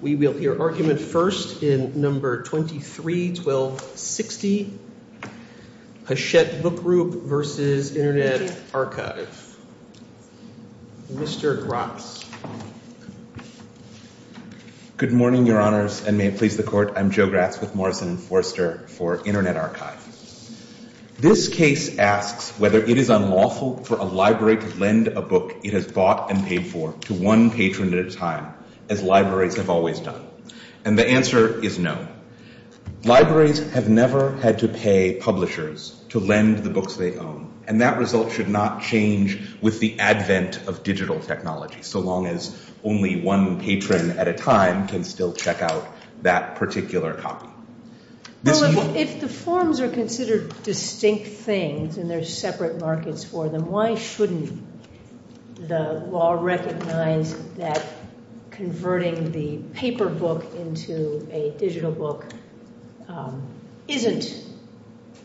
We will hear arguments first in No. 23-1260, Hachette Book Group v. Internet Archive. Mr. Gratz. Good morning, Your Honors, and may it please the Court. I'm Joe Gratz with Morrison & Forster for Internet Archive. This case asks whether it is unlawful for a library to lend a book it has bought and paid for to one patron at a time as libraries have always done. And the answer is no. Libraries have never had to pay publishers to lend the books they own. And that result should not change with the advent of digital technology, so long as only one patron at a time can still check out that particular copy. Well, if the forms are considered distinct things and there are separate markets for them, why shouldn't the law recognize that converting the paper book into a digital book isn't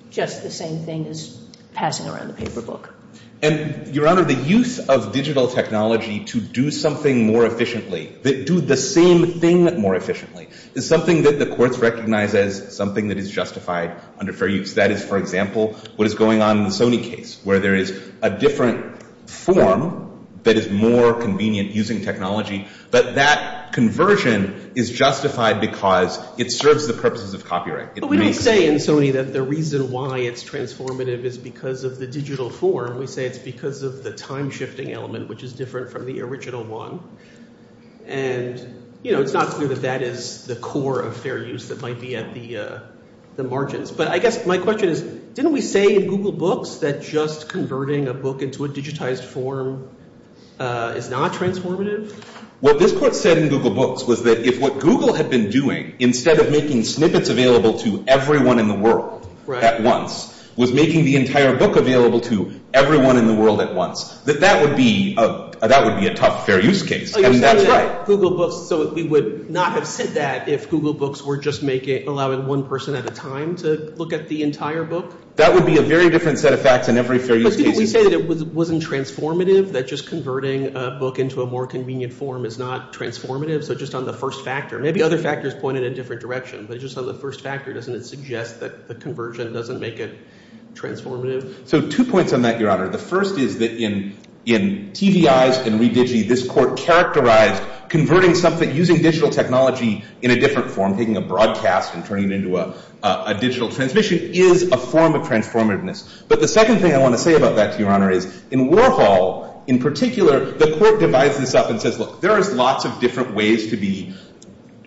just the same thing as passing around the paper book? Your Honor, the use of digital technology to do something more efficiently, to do the same thing more efficiently, is something that the courts recognize as something that is justified under fair use. That is, for example, what is going on in the Sony case, where there is a different form that is more convenient using technology, but that conversion is justified because it serves the purposes of copyright. But we don't say in Sony that the reason why it's transformative is because of the digital form. We say it's because of the time-shifting element, which is different from the original one. And it's not true that that is the core of fair use that might be at the margins. But I guess my question is, didn't we say in Google Books that just converting a book into a digitized form is not transformative? What this court said in Google Books was that if what Google had been doing, instead of making snippets available to everyone in the world at once, was making the entire book available to everyone in the world at once, that that would be a tough fair use case. I mean, that's right. So we would not have said that if Google Books were just allowing one person at a time to look at the entire book? That would be a very different set of facts in every fair use case. But didn't we say it wasn't transformative, that just converting a book into a more convenient form is not transformative? So just on the first factor, maybe other factors point in a different direction, but just on the first factor, doesn't it suggest that the conversion doesn't make it transformative? So two points on that, Your Honor. The first is that in TDIs and revisions, this court characterized converting something, using digital technology in a different form, taking a broadcast and turning it into a digital transmission, is a form of transformativeness. But the second thing I want to say about that, Your Honor, is in Warhol, in particular, the court divides this up and says, look, there are lots of different ways to be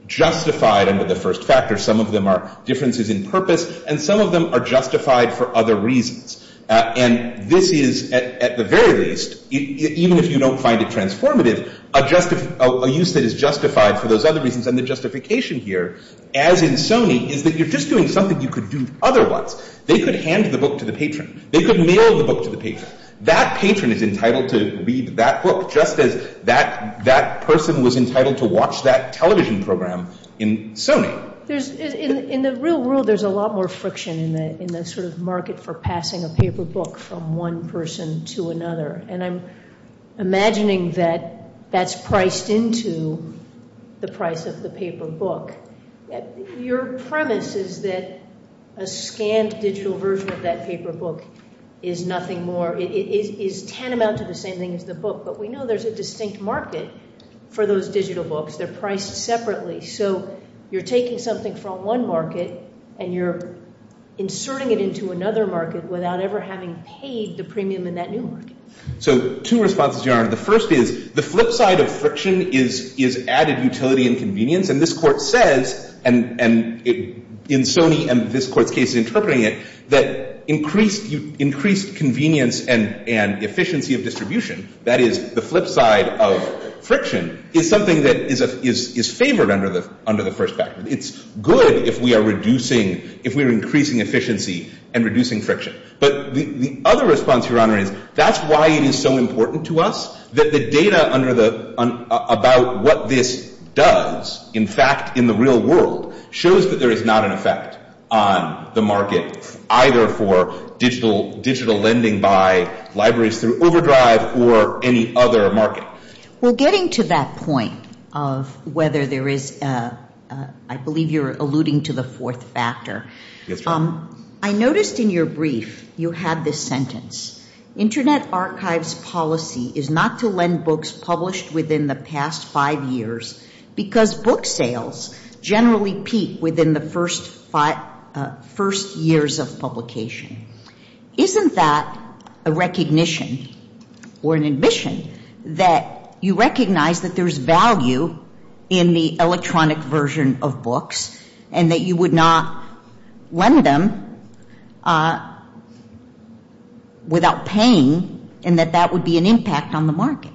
justified under the first factor. Some of them are differences in purpose, and some of them are justified for other reasons. And this is, at the very least, even if you don't find it transformative, a use that is justified for those other reasons. And the justification here, as in Sony, is that you're just doing something you could do otherwise. They could hand the book to the patron. They could mail the book to the patron. That patron is entitled to read that book, just as that person was entitled to watch that television program in Sony. In the real world, there's a lot more friction in the sort of market for passing a paper book from one person to another. And I'm imagining that that's priced into the price of the paper book. Your premise is that a scanned digital version of that paper book is nothing more, is tantamount to the same thing as the book. But we know there's a distinct market for those digital books. They're priced separately. So you're taking something from one market, and you're inserting it into another market without ever having paid the premium in that new market. So two responses, Your Honor. The first is, the flip side of friction is added utility and convenience. And this court says, and in Sony and this court case interpreting it, that increased convenience and efficiency of distribution, that is, the flip side of friction, is something that is favored under the first factor. It's good if we are increasing efficiency and reducing friction. But the other response, Your Honor, is that's why it is so important to us that the data about what this does, in fact, in the real world, shows that there is not an effect on the market, either for digital lending by libraries through OverDrive or any other market. Well, getting to that point of whether there is, I believe you're alluding to the fourth factor, I noticed in your brief you have this sentence, Internet archives policy is not to lend books published within the past five years because book sales generally peak within the first years of publication. Isn't that a recognition or an admission that you recognize that there's value in the electronic version of books and that you would not lend them without paying and that that would be an impact on the market?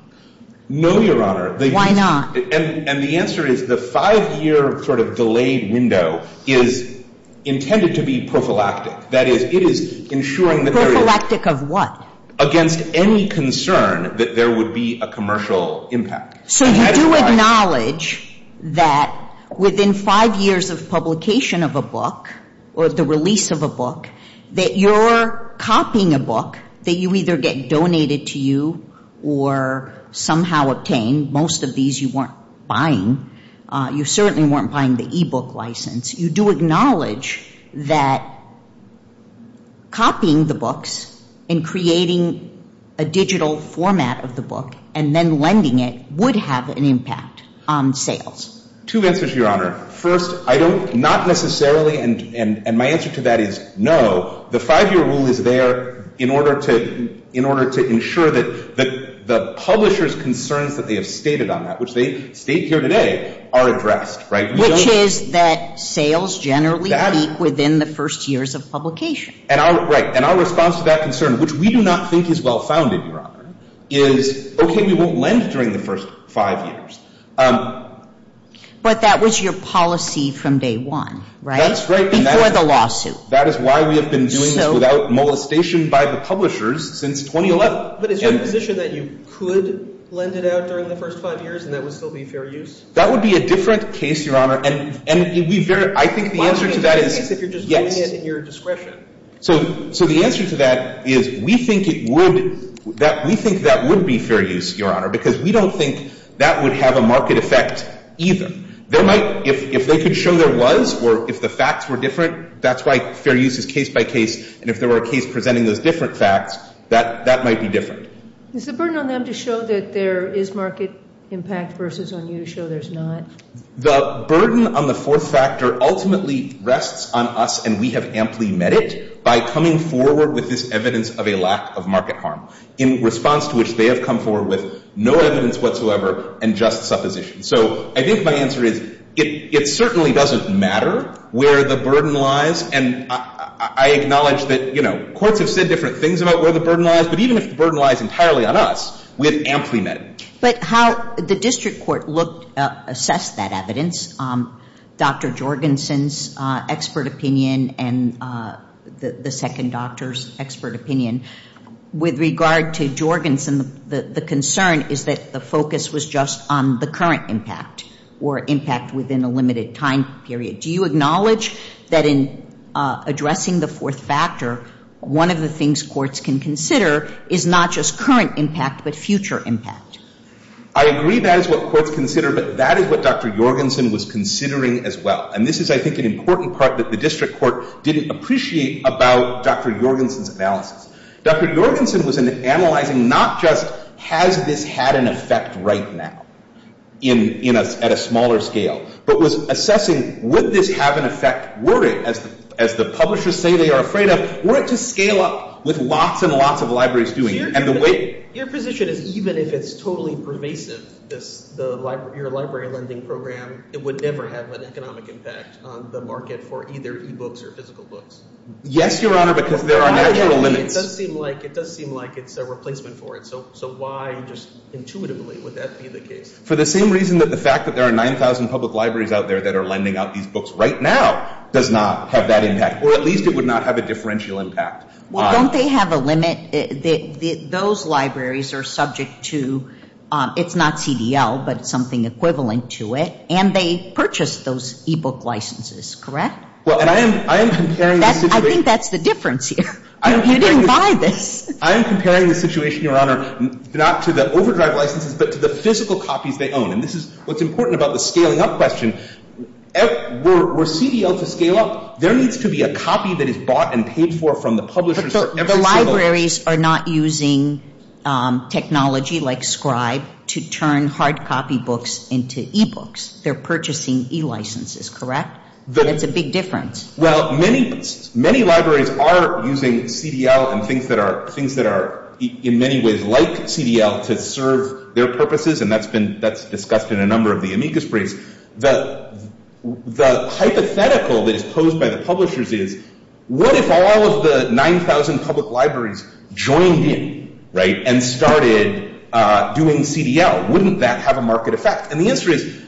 No, Your Honor. Why not? And the answer is the five-year sort of delayed window is intended to be prophylactic. That is, it is ensuring that there is... Prophylactic of what? Against any concern that there would be a commercial impact. So you acknowledge that within five years of publication of a book or the release of a book, that you're copying a book, that you either get donated to you or somehow obtain. Most of these you weren't buying. You certainly weren't buying the e-book license. You do acknowledge that copying the books and creating a digital format of the book and then lending it would have an impact on sales. Two answers, Your Honor. First, I don't necessarily, and my answer to that is no. The five-year rule is there in order to ensure that the publisher's concerns that they have stated on that, which they state here today, are addressed. Which is that sales generally peak within the first years of publication. And our response to that concern, which we do not think is well-founded, Your Honor, is, okay, we won't lend during the first five years. But that was your policy from day one, right? That's right. Before the lawsuit. That is why we have been doing it without molestation by the publishers since 2011. But is there a condition that you could lend it out during the first five years and that would still be fair use? That would be a different case, Your Honor. And I think the answer to that is yes. If you're just doing it in your discretion. So the answer to that is we think that would be fair use, Your Honor, because we don't think that would have a market effect either. If they could show there was or if the facts were different, that's why fair use is case by case. And if there were a case presenting those different facts, that might be different. Is the burden on them to show that there is market impact versus on you to show there's not? The burden on the fourth factor ultimately rests on us, and we have amply met it by coming forward with this evidence of a lack of market harm in response to which they have come forward with no evidence whatsoever and just supposition. So I guess my answer is it certainly doesn't matter where the burden lies, and I acknowledge that courts have said different things about where the burden lies, but even if the burden lies entirely on us, we have amply met it. But how the district court assessed that evidence, Dr. Jorgensen's expert opinion and the second doctor's expert opinion, with regard to Jorgensen, the concern is that the focus was just on the current impact or impact within a limited time period. Do you acknowledge that in addressing the fourth factor, one of the things courts can consider is not just current impact but future impact? I agree that is what courts consider, but that is what Dr. Jorgensen was considering as well. And this is, I think, the important part that the district court didn't appreciate about Dr. Jorgensen's analysis. Dr. Jorgensen was analyzing not just has this had an effect right now at a smaller scale, but was assessing would this have an effect, were it, as the publishers say they are afraid of, were it to scale up with lots and lots of libraries doing it. Your position is even if it is totally pervasive, your library lending program, it would never have an economic impact on the market for either e-books or physical books? Yes, Your Honor, because there are natural limits. It does seem like it is a replacement for it, so why just intuitively would that be the case? For the same reason that the fact that there are 9,000 public libraries out there that are lending out these books right now does not have that impact, or at least it would not have a differential impact. Well, don't they have a limit? Those libraries are subject to, it is not CDL, but something equivalent to it, and they purchase those e-book licenses, correct? Well, and I am comparing... I think that is the difference here. You didn't buy this. I am comparing the situation, Your Honor, not to the overdrive licenses, but to the physical copies they own. This is what is important about the scaling up question. For CDL to scale up, there needs to be a copy that is bought and paid for from the publisher. Libraries are not using technology like Scribe to turn hard copy books into e-books. They are purchasing e-licenses, correct? That is the big difference. Well, many libraries are using CDL and things that are in many ways like CDL to serve their purposes, and that is discussed in a number of the amicus briefs. The hypothetical that is posed by the publishers is, what if all of the 9,000 public libraries joined in and started doing CDL? Wouldn't that have a market effect? And the answer is,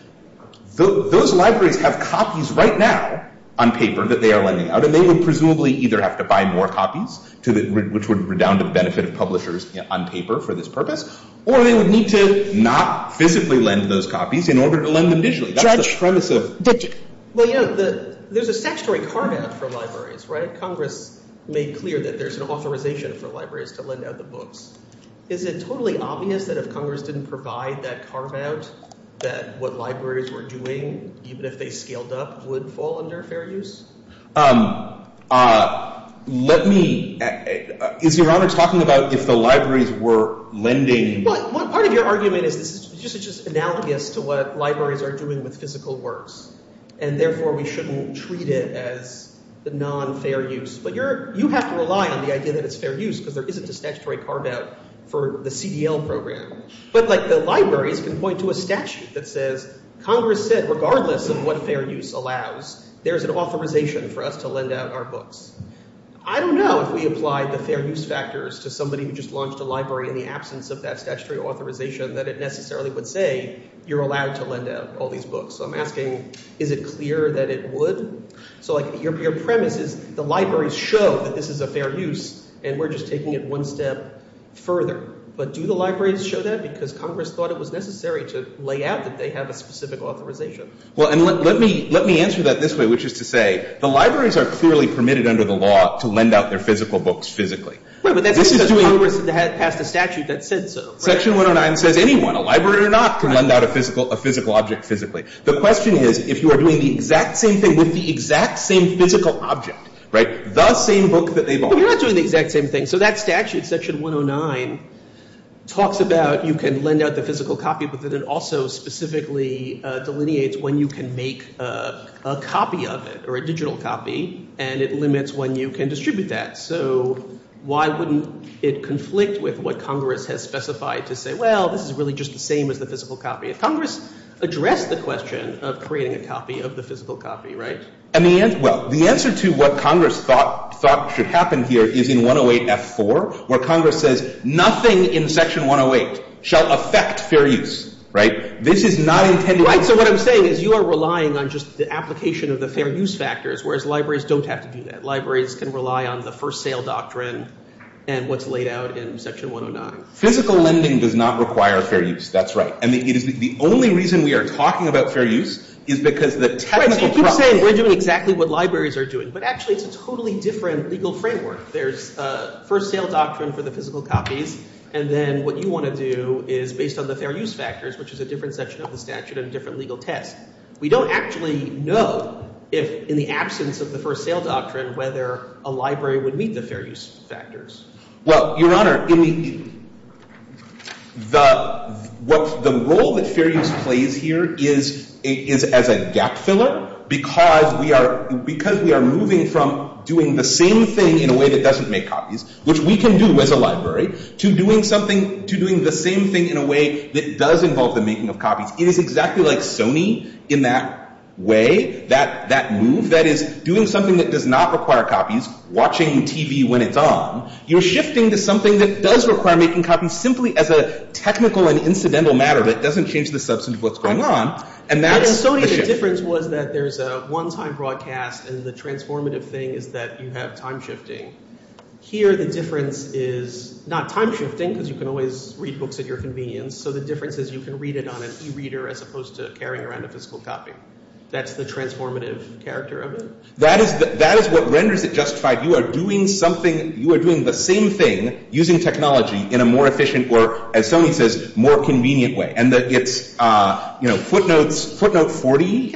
those libraries have copies right now on paper that they are lending out, and they would presumably either have to buy more copies, which would redound the benefit of publishers on paper for this purpose, or they would need to not physically lend those copies in order to lend them digitally. That is the premise of digit. Well, yes, there is a statutory carve-out for libraries, right? Congress made clear that there is an authorization for libraries to lend out the books. Isn't it totally obvious that if Congress didn't provide that carve-out that what libraries were doing, even if they scaled up, would fall under fair use? Is Your Honor talking about if the libraries were lending? Well, part of your argument is just analogous to what libraries are doing with physical works, and therefore we shouldn't treat it as the non-fair use. But you have to rely on the idea that it's fair use, because there isn't a statutory carve-out for the CDL program. But the libraries can point to a statute that says, Congress said regardless of what fair use allows, there's an authorization for us to lend out our books. I don't know if we apply the fair use factors to somebody who just launched a library in the absence of that statutory authorization that it necessarily would say, you're allowed to lend out all these books. So I'm asking, is it clear that it would? So your premise is the libraries show that this is a fair use, and we're just taking it one step further. But do the libraries show that? Because Congress thought it was necessary to lay out that they have a specific authorization. Well, and let me answer that this way, which is to say, the libraries are clearly permitted under the law to lend out their physical books physically. Wait, but that's because Congress has the statute that says so. Section 109 says anyone, a librarian or not, can lend out a physical object physically. The question is, if you are doing the exact same thing with the exact same physical object, the same book that they've authorized. But you're not doing the exact same thing. So that statute, Section 109, talks about you can lend out the physical copy, but then it also specifically delineates when you can make a copy of it, or a digital copy, and it limits when you can distribute that. So why wouldn't it conflict with what Congress has specified to say, well, this is really just the same as the physical copy? Congress addressed the question of creating a copy of the physical copy, right? Well, the answer to what Congress thought should happen here is in 108F4, where Congress says nothing in Section 108 shall affect fair use, right? This is not intended. Right, so what I'm saying is you are relying on just the application of the fair use factors, whereas libraries don't have to do that. Libraries can rely on the first sale doctrine and what's laid out in Section 109. Physical lending does not require fair use. That's right. And the only reason we are talking about fair use is because the technical process Right, but you're saying we're doing exactly what libraries are doing, but actually it's a totally different legal framework. There's a first sale doctrine for the physical copies, and then what you want to do is based on the fair use factors, which is a different section of the statute and a different legal text. We don't actually know if in the absence of the first sale doctrine whether a library would meet the fair use factors. Well, Your Honor, the role that fair use plays here is as a gap filler because we are moving from doing the same thing in a way that doesn't make copies, which we can do as a library, to doing the same thing in a way that does involve the making of copies. It is exactly like Sony in that way, that move, that is doing something that does not require copies, watching TV when it's on. You're shifting to something that does require making copies simply as a technical and incidental matter that doesn't change the substance of what's going on. In Sony the difference was that there's a one-time broadcast and the transformative thing is that you have time shifting. Here the difference is not time shifting, because you can always read books at your convenience, so the difference is you can read it on an e-reader as opposed to carrying around a physical copy. That's the transformative character of it. That is what rendered it justified. You are doing the same thing using technology in a more efficient or, as Sony says, more convenient way. Footnote 40.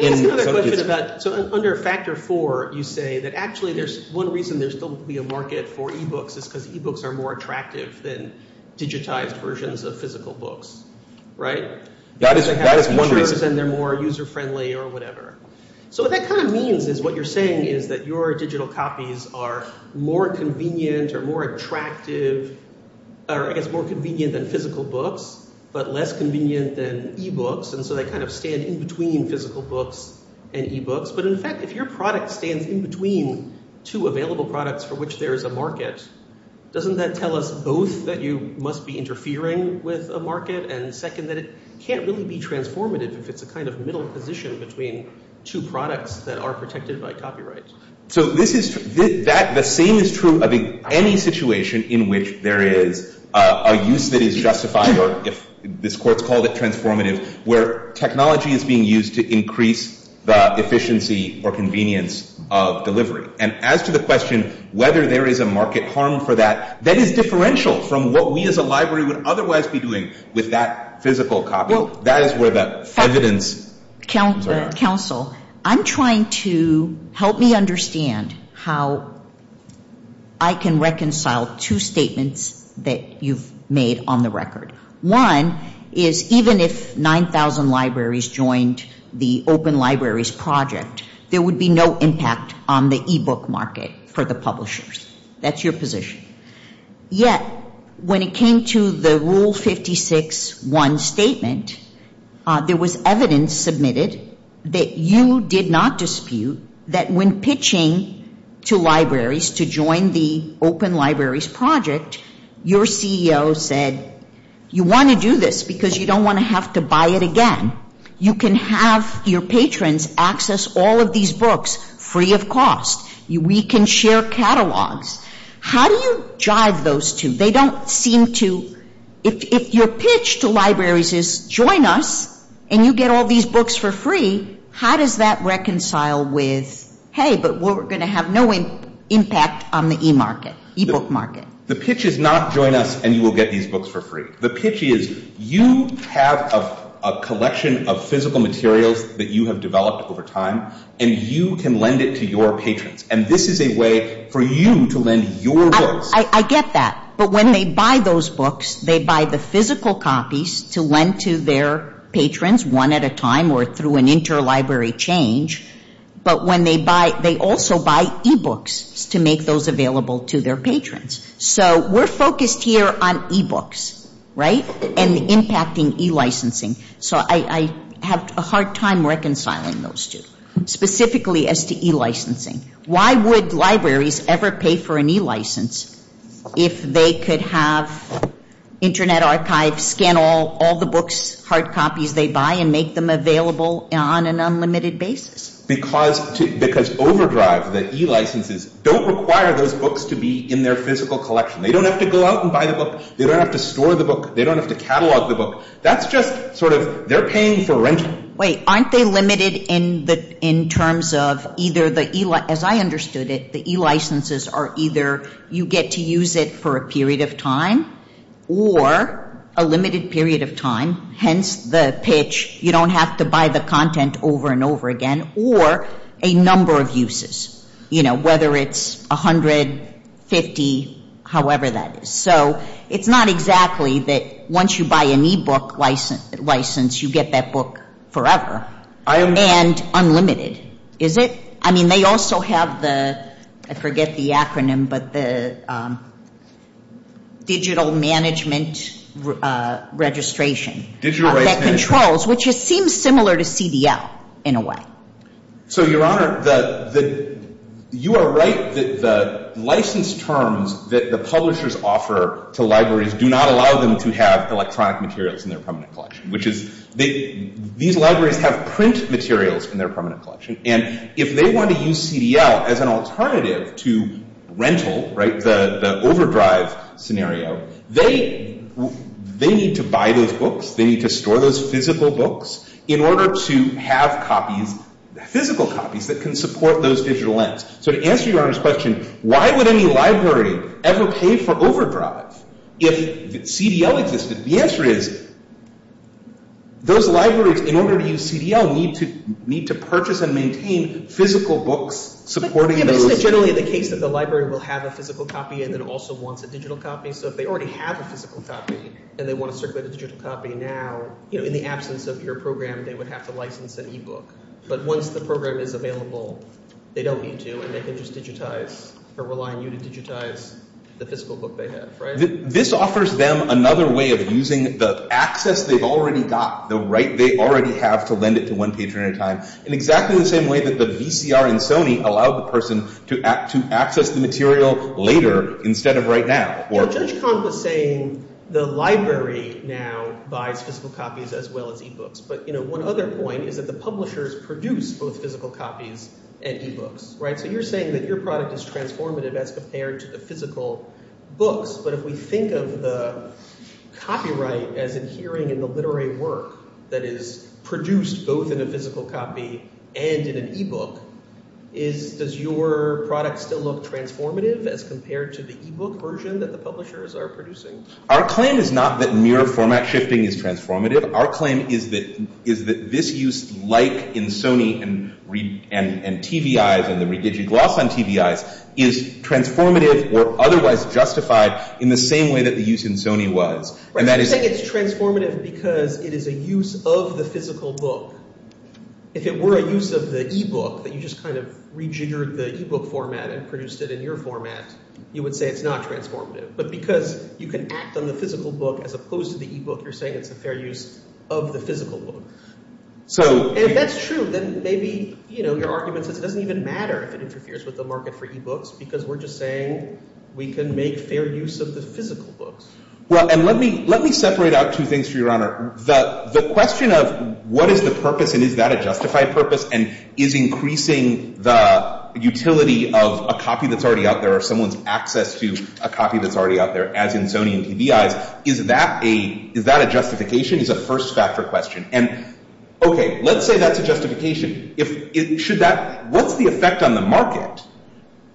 So under factor four you say that actually there's one reason there's supposed to be a market for e-books is because e-books are more attractive than digitized versions of physical books, right? They're more user-friendly or whatever. So what that kind of means is what you're saying is that your digital copies are more convenient or more attractive, or more convenient than physical books, but less convenient than e-books, and so they kind of stand in between physical books and e-books. But in fact, if your product stands in between two available products for which there is a market, doesn't that tell us both that you must be interfering with a market, and second, that it can't really be transformative because it's a kind of middle position between two products that are protected by copyrights. So the same is true of any situation in which there is a use that is justified, or this court called it transformative, where technology is being used to increase the efficiency or convenience of delivery. And as to the question whether there is a market harm for that, that is differential from what we as a library would otherwise be doing with that physical copy. That is where the evidence lies. Counsel, I'm trying to help me understand how I can reconcile two statements that you've made on the record. One is even if 9,000 libraries joined the Open Libraries Project, there would be no impact on the e-book market for the publishers. That's your position. Yet, when it came to the Rule 56-1 statement, there was evidence submitted that you did not dispute that when pitching to libraries to join the Open Libraries Project, your CEO said, you want to do this because you don't want to have to buy it again. You can have your patrons access all of these books free of cost. We can share catalogs. How do you jive those two? They don't seem to... If your pitch to libraries is join us and you get all these books for free, how does that reconcile with, hey, but we're going to have no impact on the e-book market? The pitch is not join us and you will get these books for free. The pitch is you have a collection of physical materials that you have developed over time, and you can lend it to your patrons. This is a way for you to lend your books. I get that. But when they buy those books, they buy the physical copies to lend to their patrons one at a time or through an interlibrary change, but they also buy e-books to make those available to their patrons. We're focused here on e-books and impacting e-licensing. I have a hard time reconciling those two, specifically as to e-licensing. Why would libraries ever pay for an e-license if they could have Internet Archive scan all the books, hard copies they buy and make them available on an unlimited basis? Because Overdrive, the e-licenses, don't require those books to be in their physical collection. They don't have to go out and buy the book. They don't have to store the book. They don't have to catalog the book. That's just sort of, they're paying for rent. Wait, aren't they limited in terms of either the e-license, as I understood it, the e-licenses are either you get to use it for a period of time or a limited period of time, hence the pitch, you don't have to buy the content over and over again, or a number of uses, whether it's 100, 50, however that is. So, it's not exactly that once you buy an e-book license, you get that book forever and unlimited, is it? I mean, they also have the, I forget the acronym, but the digital management registration that controls, which it seems similar to CDL in a way. So, Your Honor, you are right that the license terms that the publishers offer to libraries do not allow them to have electronic materials in their permanent collection, which is these libraries have print materials in their permanent collection, and if they want to use CDL as an alternative to rental, right, the overdrive scenario, they need to buy those books, they need to store those physical books in order to have copies, physical copies, that can support those digital ends. So, to answer Your Honor's question, why would any library ever pay for overdrive if CDL existed? The answer is those libraries, in order to use CDL, need to purchase and maintain physical books supporting those... But isn't it generally the case that the library will have a physical copy and then also wants a digital copy? So, if they already have a physical copy and they want to circulate this digital copy now, you know, in the absence of your program, they would have to license an e-book. But once the program is available, they don't need to and they can just digitize, or rely on you to digitize the physical book they have, right? This offers them another way of using the access they've already got, the right they already have to lend it to one patron at a time, in exactly the same way that the VCR and Sony allow the person to access the material later instead of right now. So, Judge Barnes was saying the library now buys physical copies as well as e-books. But, you know, one other point is that the publishers produce both physical copies and e-books, right? So, you're saying that your product is transformative as compared to the physical books, but if we think of the copyright as adhering in the literary work that is produced both in a physical copy and in an e-book, does your product still look transformative as compared to the e-book version that the publishers are producing? Our claim is not that mirror format shifting is transformative. Our claim is that this use, like in Sony and TDI, and the re-digitalized on TDI, is transformative or otherwise justified in the same way that the use in Sony was. Right, so you're saying it's transformative because it is a use of the physical book. If it were a use of the e-book, that you just kind of rejiggered the e-book format and produced it in your format, you would say it's not transformative. But because you can act on the physical book as opposed to the e-book, you're saying it's a fair use of the physical book. And if that's true, then maybe, you know, your argument that it doesn't even matter if it interferes with the market for e-books because we're just saying we can make fair use of the physical books. Well, and let me separate out two things, Your Honor. The question of what is the purpose and is that a justified purpose and is increasing the utility of a copy that's already out there or someone's access to a copy that's already out there, as in Sony and TDI, is that a justification? Is that a first factor question? And, okay, let's say that's a justification. What's the effect on the market?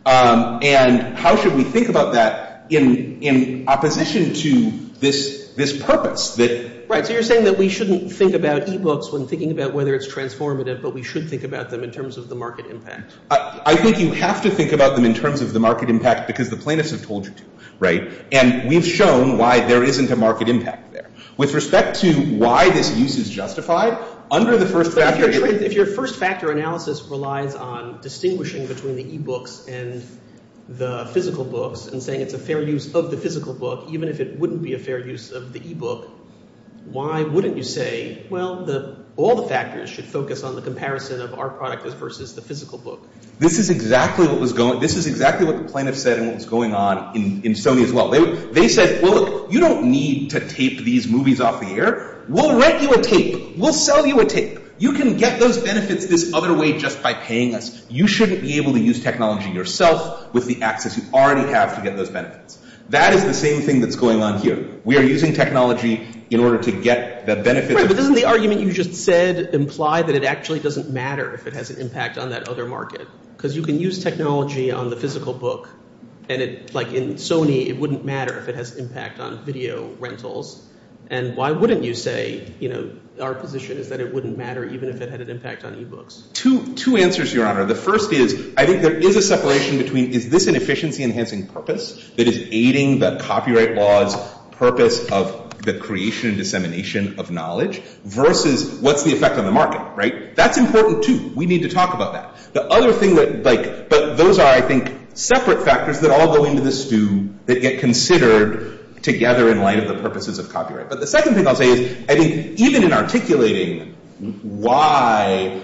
And how should we think about that in opposition to this purpose? Right, so you're saying that we shouldn't think about e-books when thinking about whether it's transformative, but we should think about them in terms of the market impact. I think you have to think about them in terms of the market impact because the plaintiff has told you to, right? And we've shown why there isn't a market impact there. With respect to why this use is justified, under the first factor... If your first factor analysis relies on distinguishing between the e-books and the physical books and saying it's a fair use of the physical book, even if it wouldn't be a fair use of the e-book, why wouldn't you say, well, all the factors should focus on the comparison of our product versus the physical book? This is exactly what the plaintiff said and what's going on in Sony as well. They said, look, you don't need to tape these movies off the air. We'll rent you a tape. We'll sell you a tape. You can get those benefits this other way just by paying us. You shouldn't be able to use technology yourself because you already have to get those benefits. That is the same thing that's going on here. We are using technology in order to get that benefit. But doesn't the argument you just said imply that it actually doesn't matter if it has an impact on that other market? Because you can use technology on the physical book and like in Sony, it wouldn't matter if it has impact on video rentals. And why wouldn't you say, our position is that it wouldn't matter even if it had an impact on e-books? Two answers, Your Honor. The first is, I think there is a separation between, is this an efficiency-enhancing purpose that is aiding the copyright law's purpose of the creation and dissemination of knowledge versus what's the effect on the market, right? That's important too. We need to talk about that. The other thing, but those are, I think, separate factors that all go into this stew that get considered together in light of the purposes of copyright. But the second thing I'll say is, I think even in articulating why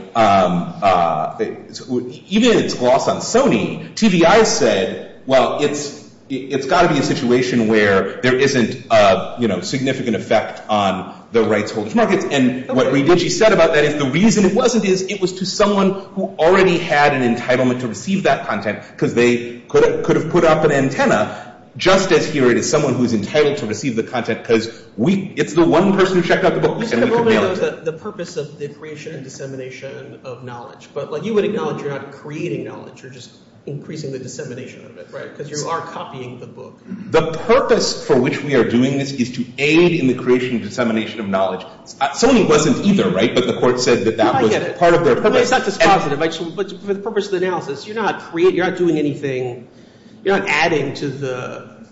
even in gloss on Sony, TBI says, well, it's gotta be a situation where there isn't a significant effect on the rights of the market. And what she said about that is, the reason it wasn't is, it was to someone who already had an entitlement to receive that content because they could have put up an antenna just as clear as someone who's entitled to receive the content because it's the one person who checked out the book. Just in the moment, the purpose of the creation and dissemination of knowledge. But you would acknowledge you're not creating knowledge, you're just increasing the dissemination of it, right? Because you are copying the book. The purpose for which we are doing this is to aid in the creation and dissemination of knowledge. Sony wasn't either, right? But the court said that that was part of their... But it's not just positive. But the purpose of the analysis, you're not doing anything, you're not adding to the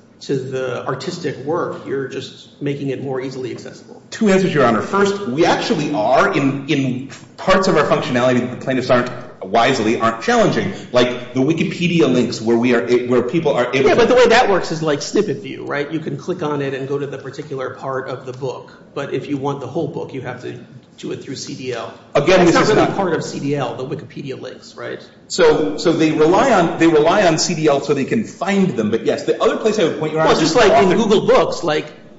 artistic work, you're just making it more easily accessible. Two answers, Your Honor. First, we actually are, in parts of our functionality, plaintiffs aren't, wisely, aren't challenging. Like the Wikipedia links, where people are able to... Yeah, but the way that works is like snippet view, right? You can click on it and go to the particular part of the book. But if you want the whole book, you have to do it through CDL. Again, you're talking about... It's not really part of CDL, the Wikipedia links, right? So they rely on CDL so they can find them, but yes, the other place... Well, just like in Google Books,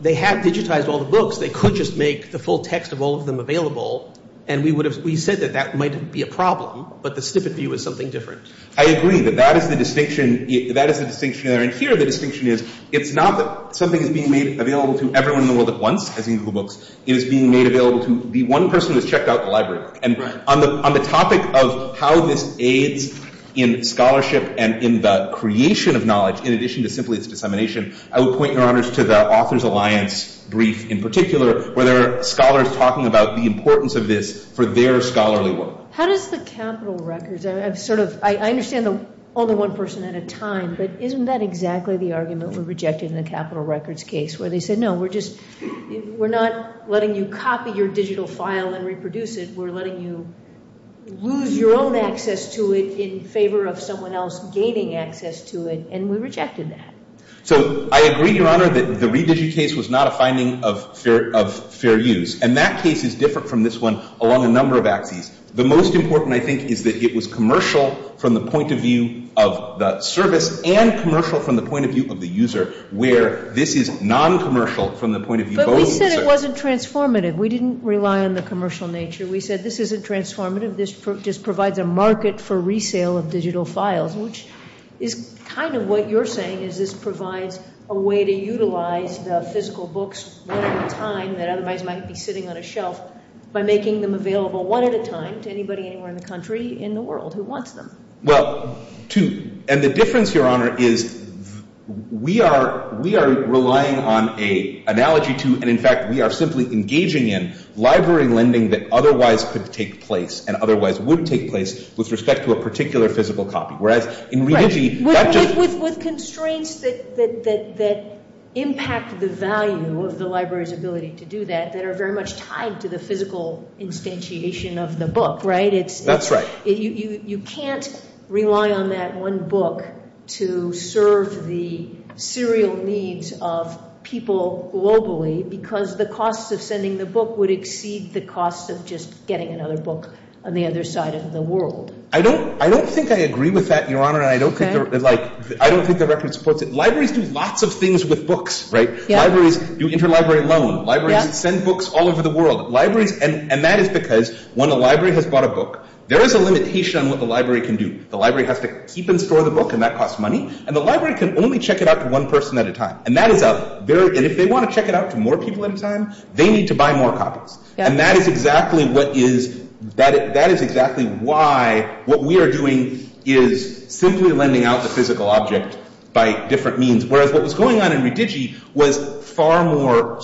they have digitized all the books, they could just make the full text of all of them available, and we said that that might be a problem, but the snippet view is something different. I agree, but that is the distinction, that is the distinction, and here the distinction is, it's not that something is being made available to everyone in the world at once, as in Google Books, it is being made available to the one person who checked out the library. And on the topic of how this aids in scholarship and in the creation of knowledge, in addition to simply its determination, I would point, Your Honors, to the Authors Alliance brief in particular, where there are scholars talking about the importance of this for their scholarly work. How does the capital records... I understand all the one person at a time, but isn't that exactly the argument for rejecting the capital records case, where they said, no, we're not letting you copy your digital file and reproduce it, we're letting you lose your own access to it in favor of someone else gaining access to it, and we rejected that. So, I agree, Your Honor, that the re-digit case was not a finding of fair use, and that case is different from this one along a number of axes. The most important, I think, is that it was commercial from the point of view of the service and commercial from the point of view of the user, where this is non-commercial from the point of view of the user. But we said it wasn't transformative. We didn't rely on the commercial nature. We said, this isn't transformative, this provides a market for resale of digital files, which is kind of what you're saying is this provides a way to utilize the physical books one at a time that otherwise might be sitting on a shelf by making them available one at a time to anybody anywhere in the country, in the world, who wants them. Well, and the difference, Your Honor, is we are relying on an analogy to, and in fact, we are simply engaging in, library lending that otherwise could take place and otherwise would take place with respect to a particular physical copy. With constraints that impact the value of the library's ability to do that that are very much tied to the physical instantiation of the book, right? That's right. You can't rely on that one book to serve the serial needs of people globally because the cost of sending the book would exceed the cost of just getting another book on the other side of the world. I don't think I agree with that, Your Honor, and I don't think the record supports it. Libraries do lots of things with books, right? Libraries do interlibrary loans. Libraries send books all over the world. And that is because when a library has bought a book, there is a limitation on what the library can do. The library has to keep and store the book, and that costs money, and the library can only check it out to one person at a time. And that is us. And if they want to check it out to more people at a time, they need to buy more copies. And that is exactly why what we are doing is simply lending out the physical object by different means, whereas what was going on in Redigi was far more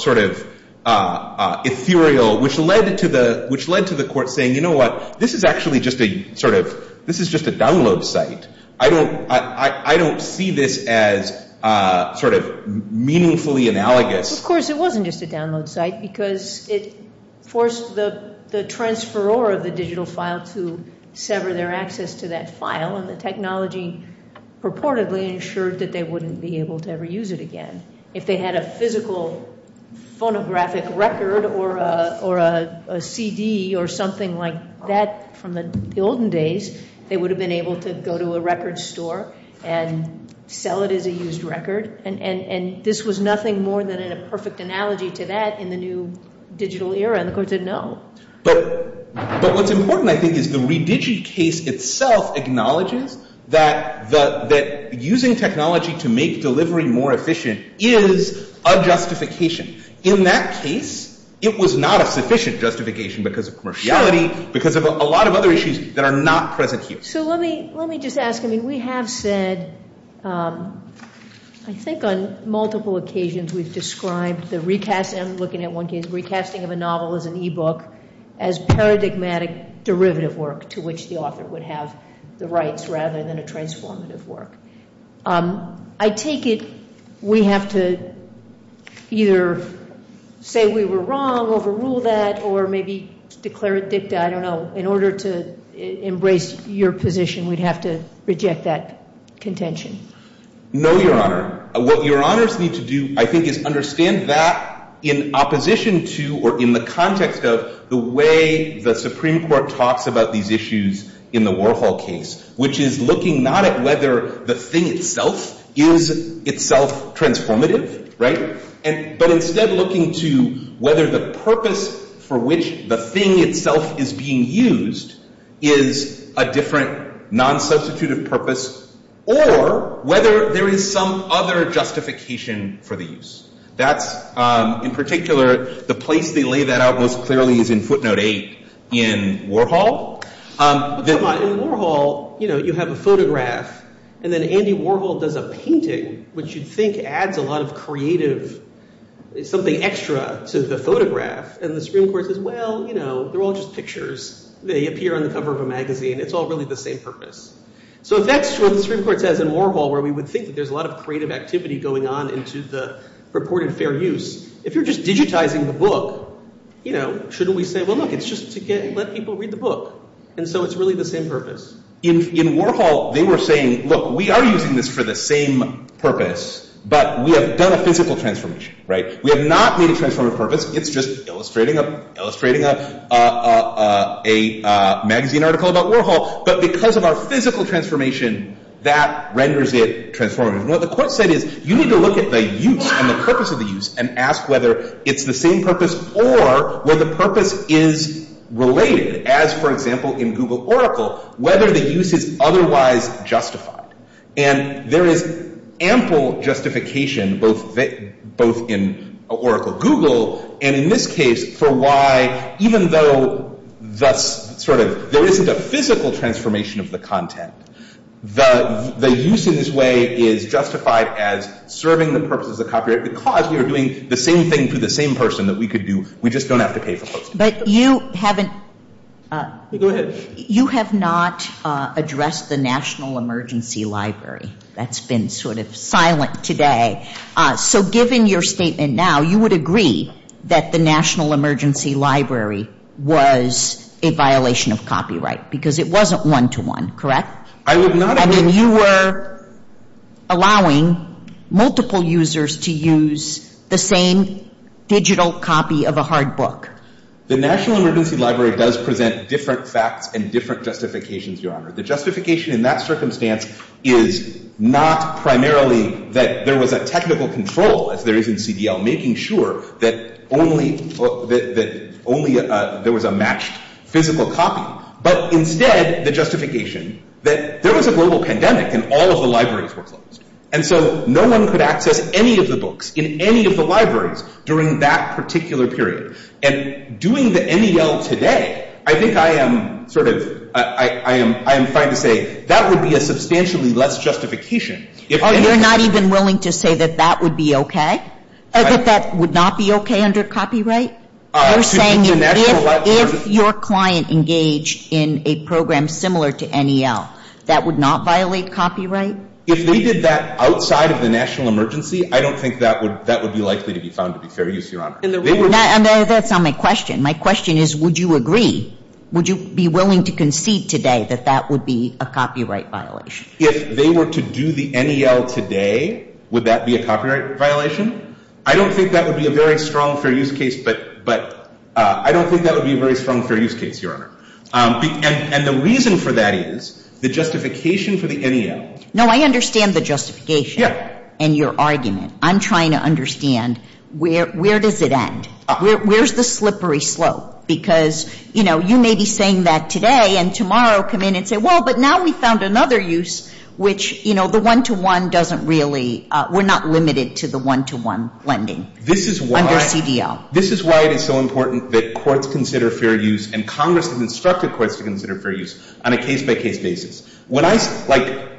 ethereal, which led to the court saying, you know what, this is actually just a download site. I don't see this as meaningfully analogous. Of course, it wasn't just a download site because it forced the transferor of the digital file to sever their access to that file, and the technology purportedly ensured that they wouldn't be able to ever use it again. If they had a physical phonographic record or a CD or something like that from the golden days, they would have been able to go to a record store and sell it as a used record. And this was nothing more than a perfect analogy to that in the new digital era, and the court said no. But what's important, I think, is the Redigi case itself acknowledges that using technology to make delivery more efficient is a justification. In that case, it was not a sufficient justification because of commerciality, because of a lot of other issues that are not present here. So let me just ask, I mean, we have said, I think on multiple occasions we've described the recast, and I'm looking at one case of recasting of a novel as an e-book, as paradigmatic derivative work to which the author would have the rights rather than a transformative work. I take it we have to either say we were wrong, overrule that, or maybe declare it dicta, I don't know. In order to embrace your position, we'd have to reject that contention. No, Your Honor. What Your Honors need to do, I think, is understand that in opposition to, or in the context of, the way the Supreme Court talks about these issues in the Warhol case, which is looking not at whether the thing itself is itself transformative, but instead looking to whether the purpose for which the thing itself is being used is a different, non-substituted purpose, or whether there is some other justification for the use. That, in particular, the place they lay that out most clearly is in footnote 8 in Warhol. Oh, come on. In Warhol, you have a photograph, and then Andy Warhol does a painting, which you'd think adds a lot of creative, something extra to the photograph, and the Supreme Court says, well, you know, they're all just pictures. They appear in the cover of a magazine. It's all really the same purpose. So that's what the Supreme Court does in Warhol, where we would think that there's a lot of creative activity going on in the purported fair use. If you're just digitizing the book, shouldn't we say, well, look, it's just to let people read the book, and so it's really the same purpose. In Warhol, they were saying, look, we are using this for the same purpose, but we have done a physical transformation. We have not made it transformative purpose. It's just illustrating a magazine article about Warhol, but because of our physical transformation, that renders it transformative. What the court said is, you need to look at the use and the purpose of the use and ask whether it's the same purpose or where the purpose is related, as, for example, in Google Oracle, whether the use is otherwise justified, and there is ample justification, both in Oracle Google, and in this case, for why, even though there isn't a physical transformation of the content. The use in this way is justified as serving the purpose of the copyright because we are doing the same thing to the same person that we could do. We just don't have to pay the person. But you haven't... Go ahead. You have not addressed the National Emergency Library. That's been sort of silent today. So, given your statement now, you would agree that the National Emergency Library was a violation of copyright because it wasn't one-to-one, correct? I was not... I mean, you were allowing multiple users to use the same digital copy of a hard book. The National Emergency Library does present different facts and different justifications, Your Honor. The justification in that circumstance is not primarily that there was a technical control, as there is in CDL, making sure that only there was a matched physical copy, but instead the justification that there was a global pandemic and all of the libraries were closed. And so no one could access any of the books in any of the libraries during that particular period. And doing the NEL today, I think I am sort of... I am trying to say that would be a substantially less justification. Oh, you're not even willing to say that that would be okay? That that would not be okay under copyright? You're saying that if your client engaged in a program similar to NEL, that would not violate copyright? If they did that outside of the National Emergency, I don't think that would be likely to be found to be fair use, Your Honor. That's not my question. My question is, would you agree? Would you be willing to concede today that that would be a copyright violation? If they were to do the NEL today, would that be a copyright violation? I don't think that would be a very strong fair use case, but I don't think that would be a very strong fair use case, Your Honor. And the reason for that is, the justification for the NEL... No, I understand the justification and your argument. I'm trying to understand, where does it end? Where's the slippery slope? Because, you know, you may be saying that today and tomorrow come in and say, well, but now we found another use, which, you know, the one-to-one doesn't really... We're not limited to the one-to-one lending under CDL. This is why it's so important that courts consider fair use and Congress has instructed courts to consider fair use on a case-by-case basis. When I...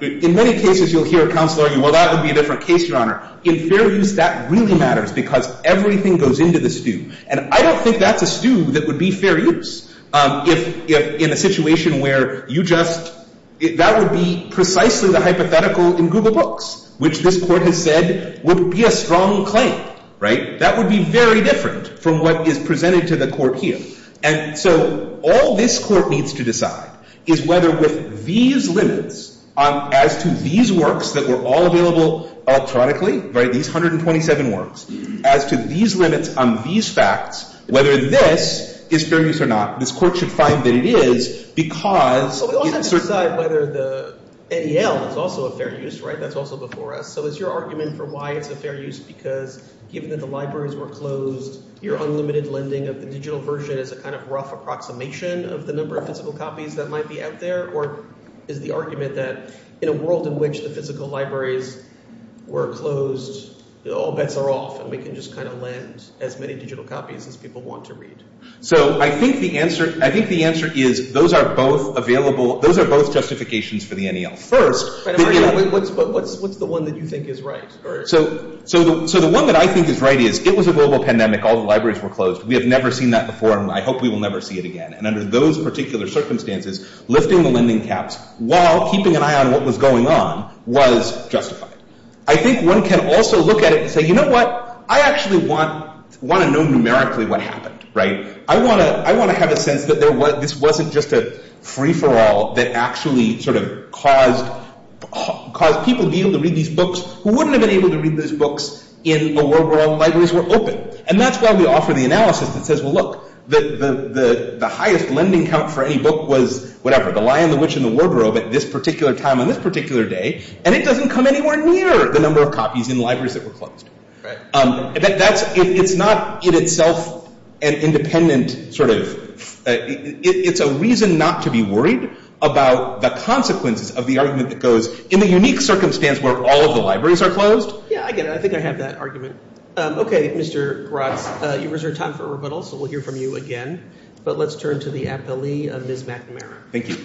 In many cases, you'll hear a counselor, well, that would be a different case, Your Honor. In fair use, that really matters because everything goes into the stew. And I don't think that's a stew that would be fair use in a situation where you just... That would be precisely the hypothetical in Google Books, which this court has said would be a strong claim. Right? That would be very different from what is presented to the court here. And so all this court needs to decide is whether with these limits as to these works that were all available electronically, right, these 127 works, as to these limits on these facts, whether this is fair use or not. This court should find that it is because... So we don't have to decide whether the... CDL is also a fair use, right? That's also before us. So is your argument for why it's a fair use because given that the libraries were closed, your unlimited lending of the digital version is a kind of rough approximation of the number of physical copies that might be out there? Or is the argument that in a world in which the physical libraries were closed, all bets are off and we can just kind of lend as many digital copies as people want to read? So I think the answer is those are both available... Those are both justifications for the NAL. First... What's the one that you think is right? So the one that I think is right is it was a global pandemic. All the libraries were closed. We have never seen that before and I hope we will never see it again. And under those particular circumstances, lifting the lending caps while keeping an eye on what was going on was justified. I think one can also look at it and say, you know what? I actually want to know numerically what happened, right? I want to have a sense that this wasn't just a free-for-all that actually sort of caused people to be able to read these books who wouldn't have been able to read these books in the world where all the libraries were open. And that's why we offer the analysis that says, well look, the highest lending cap for any book was whatever, the Lion, the Witch, and the Wardrobe at this particular time on this particular day and it doesn't come anywhere near the number of copies in libraries that were closed. It's not in itself an independent sort of... It's a reason not to be worried about the consequences of the argument that goes in the unique circumstance where all of the libraries are closed. Yeah, I get it. I think I have that argument. Okay, Mr. Roth, you reserve time for rebuttal so we'll hear from you again. But let's turn to the affilee of Ms. McNamara. Thank you.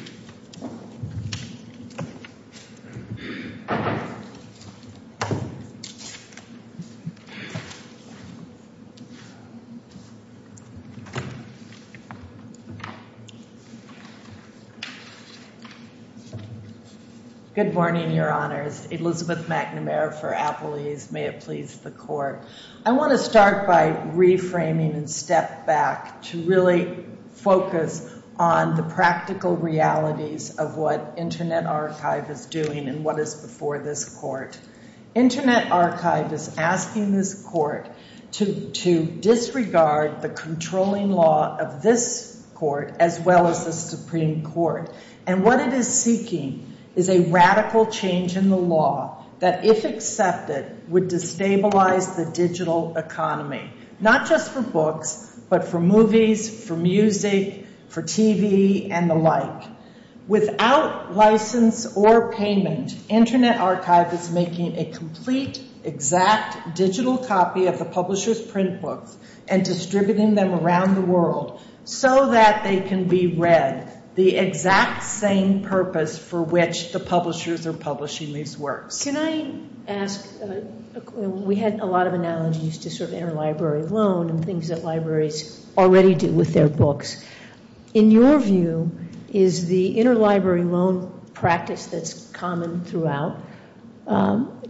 Good morning, Your Honors. Elizabeth McNamara for affilees. May it please the Court. I want to start by reframing and step back to really focus on the practical realities of what Internet Archive is doing and what is before this Court. Internet Archive is asking this Court to disregard the controlling law of this Court as well as the Supreme Court and what it is seeking is a radical change in the law that if accepted would destabilize the digital economy. Not just for books but for movies, for music, for TV and the like. Without license or payment Internet Archive is making a complete, exact digital copy of the publisher's print book and distributing them around the world so that they can be read. The exact same purpose for which the publishers are publishing these works. Can I ask, we had a lot of analogies to interlibrary loan and things that libraries already do with their books. In your view, is the interlibrary loan practice that's common throughout,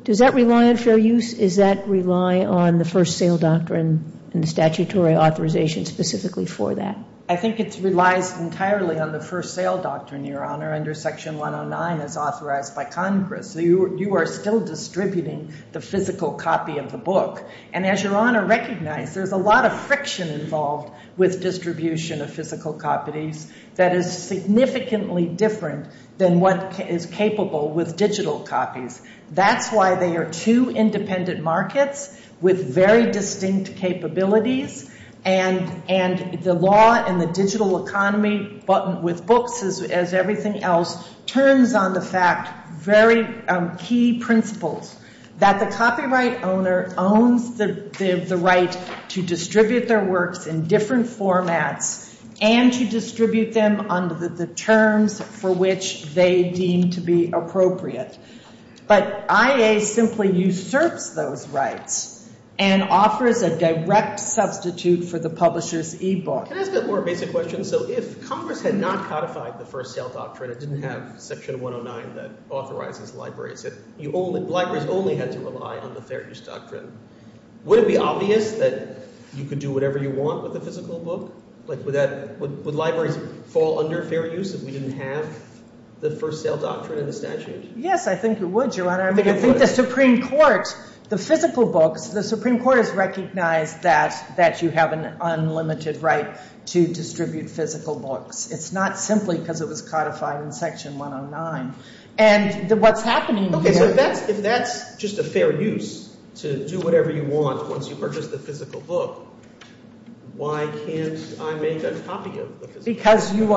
does that rely on fair use? Does that rely on the first sale doctrine and statutory authorization specifically for that? I think it relies entirely on the first sale doctrine, under Section 109 as authorized by Congress. You are still distributing the physical copy of the book. And as Your Honor recognized, there's a lot of friction involved with distribution of physical copies that is significantly different than what is capable with digital copies. That's why they are two independent markets with very distinct capabilities and the law and the digital economy with books as everything else turns on the fact, very key principles, that the copyright owner owns the right to distribute their works in different formats and to distribute them under the terms for which they deem to be appropriate. But IA simply usurps those rights and offers a direct substitute for the publisher's e-book. That's a more basic question. So if Congress had not codified the first sale doctrine and didn't have Section 109 that authorizes libraries, if libraries only had to rely on the fair use doctrine, would it be obvious that you could do whatever you want with a physical book? Would libraries fall under fair use if we didn't have the first sale doctrine and the statute? Yes, I think it would, Your Honor. I think the Supreme Court, the physical book, the Supreme Court has recognized that you have an unlimited right to distribute physical books. It's not simply because it was codified in Section 109. And what's happening here If that's just a fair use to do whatever you want once you purchase the physical book, why can't I make a copy of it? Because you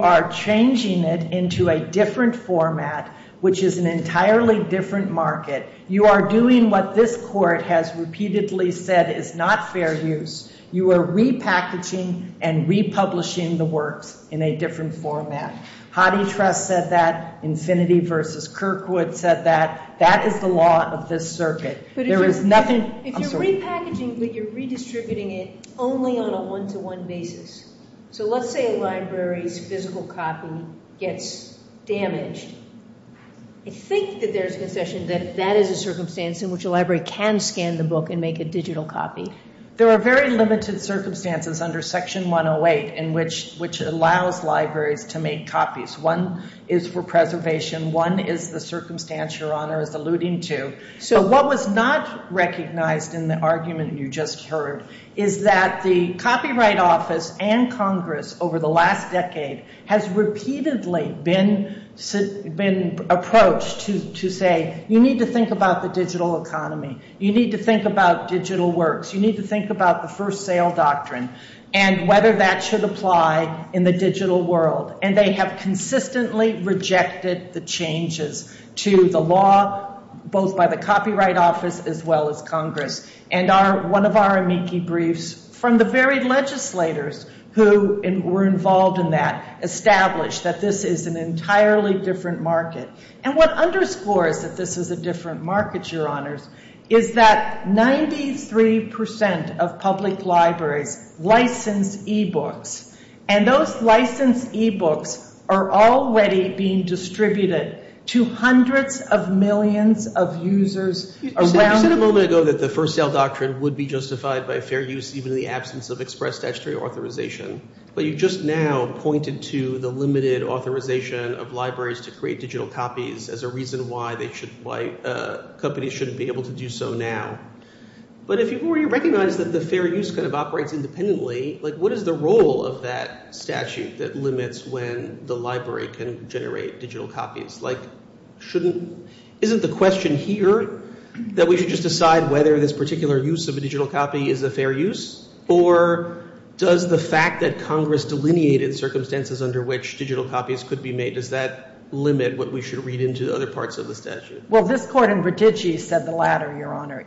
are changing it into a different format which is an entirely different market. You are doing what this Court has repeatedly said is not fair use. You are repackaging and republishing the work in a different format. Hottie Treff said that. Infinity versus Kirkwood said that. That is the law of this circuit. There is nothing If you're repackaging but you're redistributing it only on a one-to-one basis. So let's say a library's physical copy gets damaged. I think that there's an objection that that is a circumstance in which a library can scan the book and make a digital copy. There are very limited circumstances under Section 108 which allows libraries to make copies. One is for preservation. One is the circumstance Your Honor is alluding to. So what was not recognized in the argument you just heard is that the Copyright Office and Congress over the last decade has repeatedly been approached to say you need to think about the digital economy. You need to think about digital works. You need to think about the first sale doctrine and whether that should apply in the digital world. And they have consistently rejected the changes to the law both by the Copyright Office as well as Congress. And one of our amici briefs from the very legislators who were involved in that established that this is an entirely different market. And what underscores that this is a different market Your Honor is that 93% of public libraries license e-books. And those licensed e-books are already being distributed to hundreds of millions of users around the world. You said a moment ago that the first sale doctrine would be justified by fair use even in the absence of express statutory authorization. But you just now pointed to the limited authorization of libraries to create digital copies as a reason why companies shouldn't be able to do so now. But if you already recognize that the fair use kind of operates independently what is the role of that statute that limits when the library can generate digital copies? Isn't the question here that we should just decide whether this particular use of a digital copy is a fair use? Or does the fact that Congress delineated circumstances under which digital copies could be made does that limit what we should read into the other parts of the statute? Well, this court in Bertucci said the latter,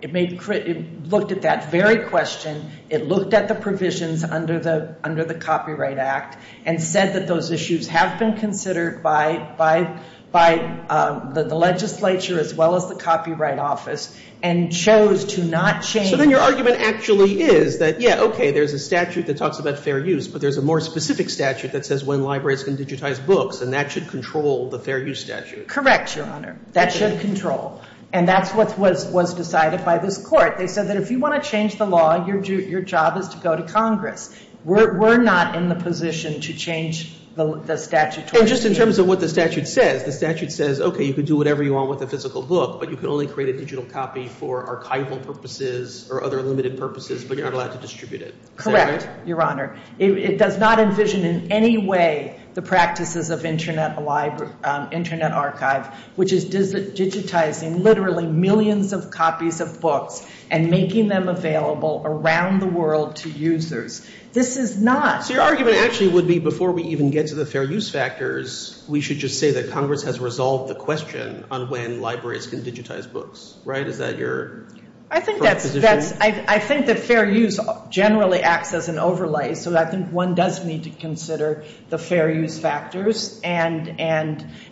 It looked at that very question. It looked at the provisions under the Copyright Act and said that those issues have been considered by the legislature as well as the Copyright Office and chose to not change... So then your argument actually is that, yeah, okay, there's a statute that talks about fair use but there's a more specific statute that says when libraries can digitize books and that should control the fair use statute. Correct, Your Honor. That should control. And that's what was decided by this court. They said that if you want to change the law, your job is to go to Congress. We're not in the position to change the statute. Well, just in terms of what the statute says, the statute says, okay, you can do whatever you want with a physical book but you can only create a digital copy for archival purposes or other limited purposes but you're allowed to distribute it. Correct, Your Honor. It does not envision in any way the practices of internet archives which is digitizing literally millions of copies of books and making them available around the world to users. This is not... Your argument actually would be before we even get to the fair use factors, we should just say that Congress has resolved the question on when libraries can digitize books. Right? Is that your... I think that fair use generally acts as an overlay so one does need to consider the fair use factors and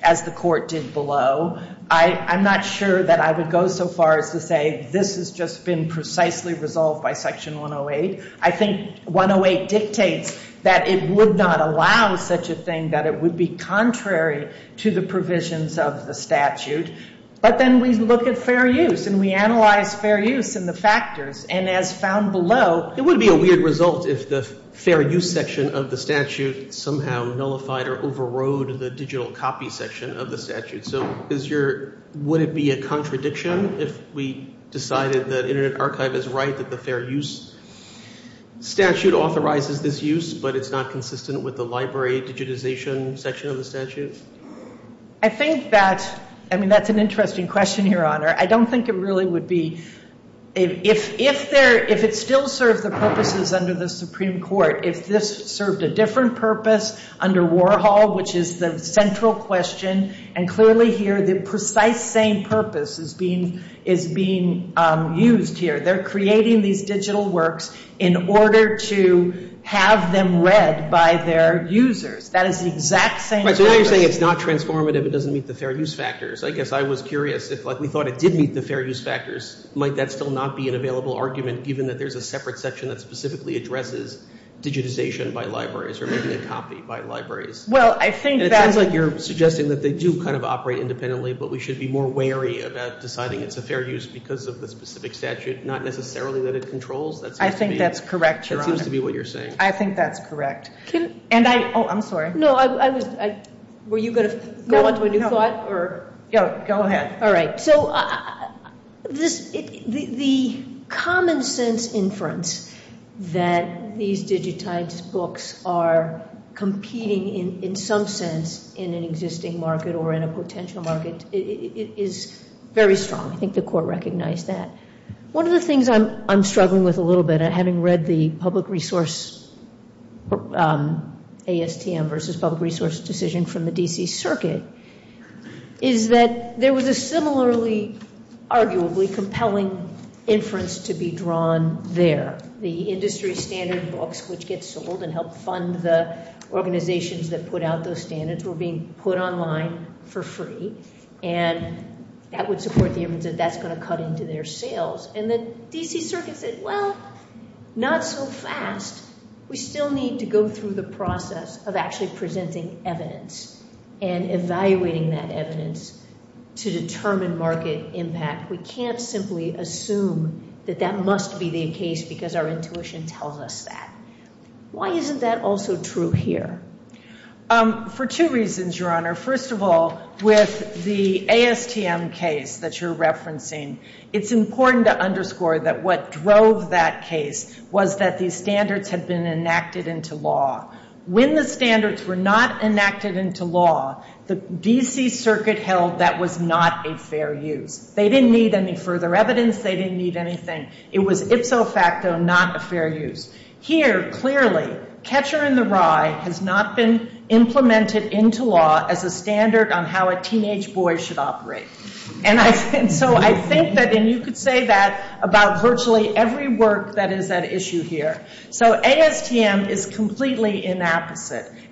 as the court did below, I'm not sure that I would go so far as to say this has just been precisely resolved by section 108. I think 108 dictates that it would not allow such a thing that it would be contrary to the provisions of the statute but then we look at fair use and we analyze fair use and the factors and as found below... It would be a weird result if the fair use section of the statute somehow nullified or overrode the digital copy section of the statute. So would it be a contradiction if we decided that Internet Archive is right that the fair use statute authorizes this use but it's not consistent with the library digitization section of the statute? I think that's... I mean that's an interesting question here, Honor. I don't think it really would be... If it still serves the purposes under the Supreme Court, if this served a different purpose under Warhol, which is the central question and clearly here the precise same purpose is being used here. They're creating these digital works in order to have them read by their users. That is the exact same... So you're saying it's not transformative if it doesn't meet the fair use factors. If I was curious if we thought it did meet the fair use factors, might that still not be an available argument even if there's a separate section that specifically addresses digitization by libraries or digitized copy by libraries? Well, I think that... Are you suggesting that they do kind of operate independently but we should be more wary of that deciding it's a fair use because of the specific statute not necessarily that it controls... I think that's correct, Your Honor. It seems to be what you're saying. I think that's correct. And I... Oh, I'm sorry. No, I was... Were you going to... No, no. Go ahead. All right. So the common sense inference that these digitized books are competing in some sense in an existing market or in a potential market is very strong. I think the court recognized that. One of the things I'm struggling with a little bit having read the public resource ASTM versus public resource decision from the D.C. Circuit is that there was a similarly arguably compelling inference to be drawn there. The industry standard books which get sold and help fund the organization that put out those standards were being put online for free. And that would support the evidence that that's going to cut into their sales. And the D.C. Circuit said, Well, not so fast. We still need to go through the process of actually presenting evidence and evaluating that evidence to determine market impact. We can't simply assume that that must be the case because our intuition tells us that. Why isn't that also true here? For two reasons, First of all, with the ASTM case that you're referencing, it's important to underscore that what drove that case was that these standards had been enacted into law. When the standards were not enacted into law, the D.C. Circuit held that was not a fair use. They didn't need any further evidence. They didn't need anything. It was, if so facto, not a fair use. Here, clearly, Catcher in the Rye has not been implemented into law as a standard on how a teenage boy should operate. And so I think that, and you could say that about virtually every work that is at issue here. So ASTM is completely inappropriate.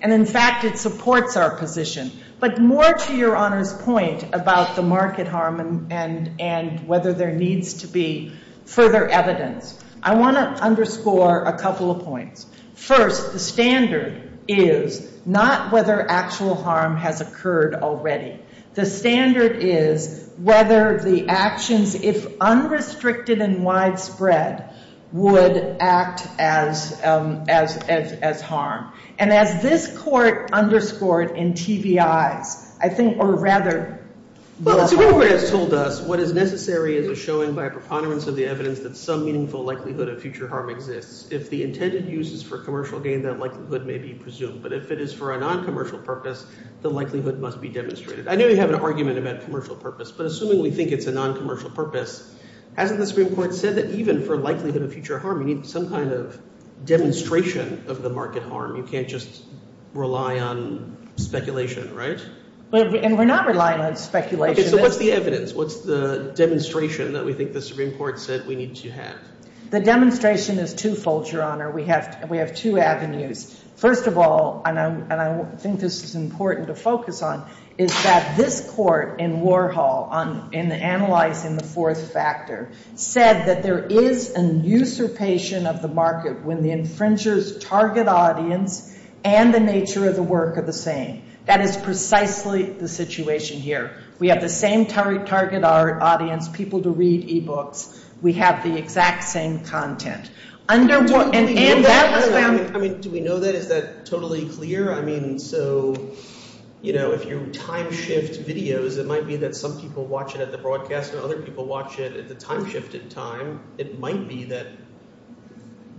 And in fact, it supports our position. But more to Your Honor's point about the market harm and whether there needs to be further evidence, I want to underscore a couple of points. First, the standard is not whether actual harm has occurred already. The standard is whether the actions, if unrestricted and widespread, would act as harm. And as this court underscored in TBI, I think, or rather, the harm... Well, the program told us what is necessary is a showing by preponderance of the evidence that some meaningful likelihood of future harm exists. If the intended use is for commercial gain, that likelihood may be presumed. But if it is for a noncommercial purpose, the likelihood must be demonstrated. I know you have an argument about commercial purpose, but assuming we think it's a noncommercial purpose, hasn't the Supreme Court said that even for likelihood of future harm, you need some kind of demonstration of the market harm? You can't just rely on speculation, right? And we're not relying on speculation. Okay, but what's the evidence? What's the demonstration that we think the Supreme Court said we need to have? The demonstration is twofold, Your Honor. We have two avenues. First of all, and I think this is important to focus on, is that this Court in Warhol in analyzing the fourth factor said that there is an usurpation of the market when the infringer's target audience and the nature of the work are the same. That is precisely the situation here. We have the same target audience, people to read e-books. We have the exact same content. I mean, do we know that? Is that totally clear? I mean, so, you know, if you're time-shift videos, it might be that some people watch it at the broadcast and other people watch it at the time-shifted time. It might be that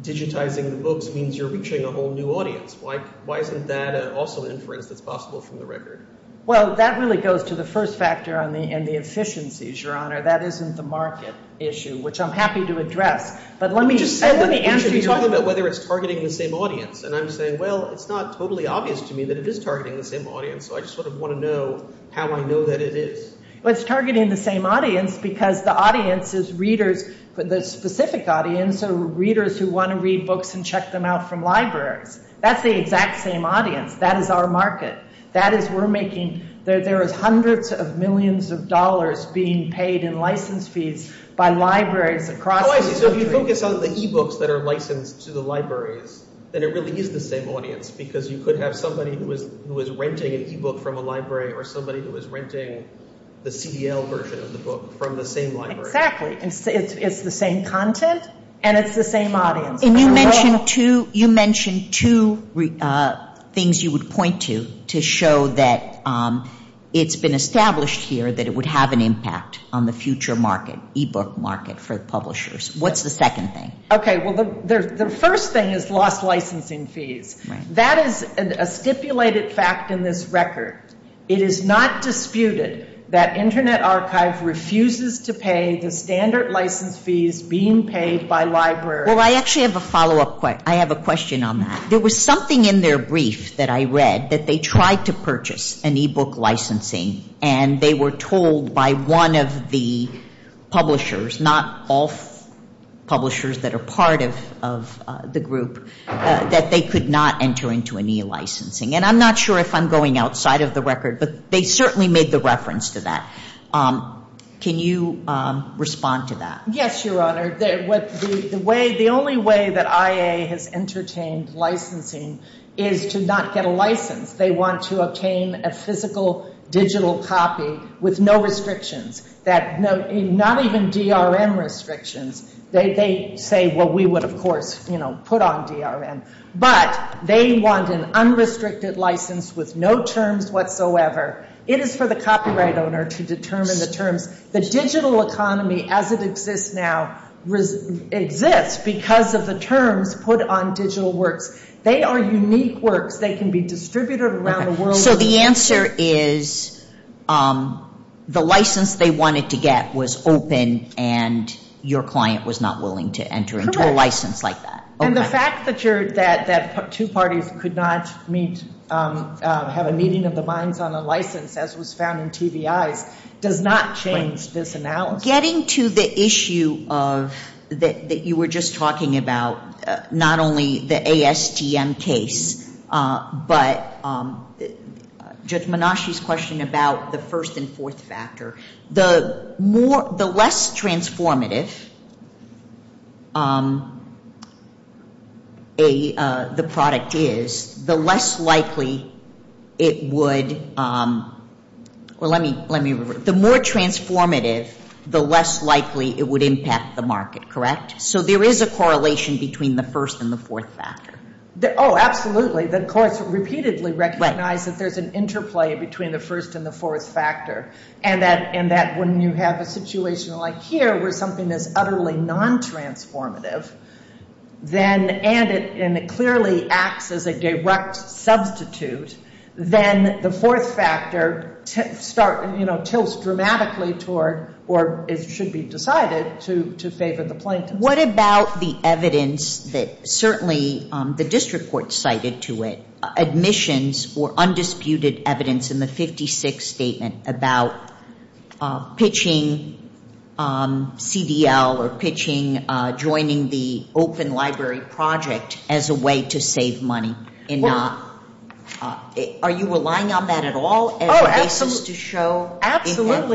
digitizing the books means you're reaching a whole new audience. Why isn't that an also inference that's possible from the record? Well, that really goes to the first factor and the efficiencies, Your Honor. That isn't the market issue, which I'm happy to address. Let me answer your question. You keep talking about whether it's targeting the same audience and I'm saying, well, it's not totally obvious to me that it is targeting the same audience so I sort of want to know how I know that it is. Well, it's targeting the same audience because the audience is readers, the specific audience are readers who want to read books and check them out from libraries. That's the exact same audience. That is our market. That is, we're making, there are hundreds of millions of dollars being paid in license fees by libraries across the country. So, if you think about the e-books that are licensed to the library, then it really is the same audience because you could have somebody who was renting an e-book from a library or somebody who was renting the CDL version of the book from the same library. Exactly. It's the same content and it's the same audience. And you mentioned two, you mentioned two things you would point to to show that it's been established here that it would have an impact on the future market, e-book market for publishers. What's the second thing? Okay, well, the first thing is lost licensing fees. That is a stipulated fact in this record. It is not disputed that Internet Archive refuses to pay the standard license fees being paid by libraries. Well, I actually have a follow-up question. I have a question on that. There was something in their brief that I read that they tried to purchase an e-book licensing and they were told by one of the publishers not all publishers that are part of the group that they could not enter into an e-licensing. And I'm not sure if I'm going outside of the record, but they certainly made the reference to that. Can you respond to that? Yes, Your Honor. The only way that IA has entertained licensing is to not get a license. They want to obtain a physical digital copy with no restrictions. Not even DRM restrictions. They say, well, we would of course put on DRM. But they want an unrestricted license with no terms whatsoever. It is for the copyright owner to determine the terms. The digital economy as it exists now exists because of the terms put on digital work. They are unique work. They can be distributed around the world. So the answer is the license they wanted to get was open and your client was not willing to enter into a license like that. And the fact that two parties could not have a meeting of the minds on a license as was found in 2DI does not change this analysis. Getting to the issue that you were just talking about, not only the ASTM case, but just Menashe's question about the first and fourth factor. The less transformative the product is, the less likely it would... The more transformative, the less likely it would impact the market, correct? So there is a correlation between the first and the fourth factor. Oh, absolutely. The courts repeatedly recognize that there's an interplay between the first and the fourth factor. And that when you have a situation like here where something is utterly non-transformative and it clearly acts as a direct substitute, then the fourth factor tilts dramatically toward or it should be decided to favor the plaintiff. What about the evidence that certainly the district court cited to it, admissions or undisputed evidence in the 56th statement about pitching CDL or pitching joining the open library project as a way to save money? Are you relying on that at all? Oh, absolutely,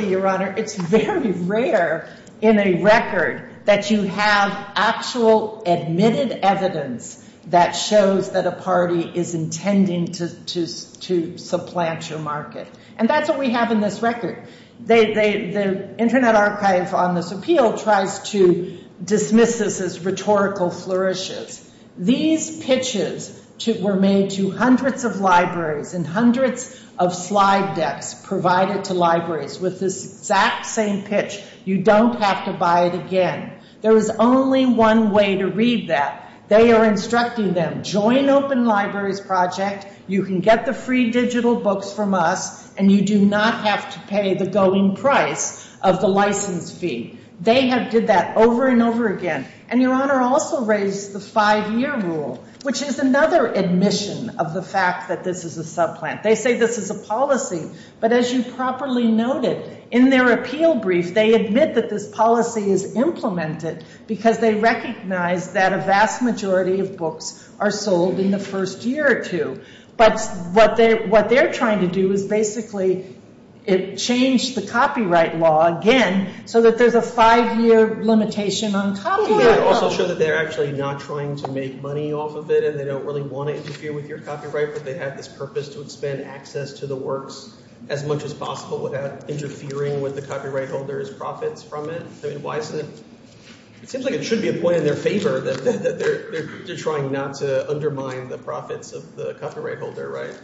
Your Honor. It's very rare in a record that you have actual admitted evidence that shows that a party is intending to supplant your market. And that's what we have in this record. The Internet Archive on this appeal tries to dismiss this as rhetorical flourishes. These pitches were made to hundreds of libraries and hundreds of slide desks provided to libraries with this exact same pitch. You don't have to buy it again. There is only one way to read that. They are instructing them, join open library project, you can get the free digital books from us, and you do not have to pay the going price of the license fee. They have did that over and over again. And Your Honor also raised the five-year rule, which is another admission of the fact that this is a supplant. They say this is a policy, but as you properly noted, in their appeal brief, they admit that this policy is implemented because they recognize that a vast majority of books are sold in the first year or two. But what they are trying to do is basically change the copyright law again so that there is a five-year limitation on copyright. So they are actually not trying to make money off of it and they don't really want to interfere with your copyright but they have this purpose to expand access to the works as much as possible without interfering with the copyright holder's profits from it. It seems like it should be a point in their favor that they are trying not to undermine the profits of the copyright holder, right?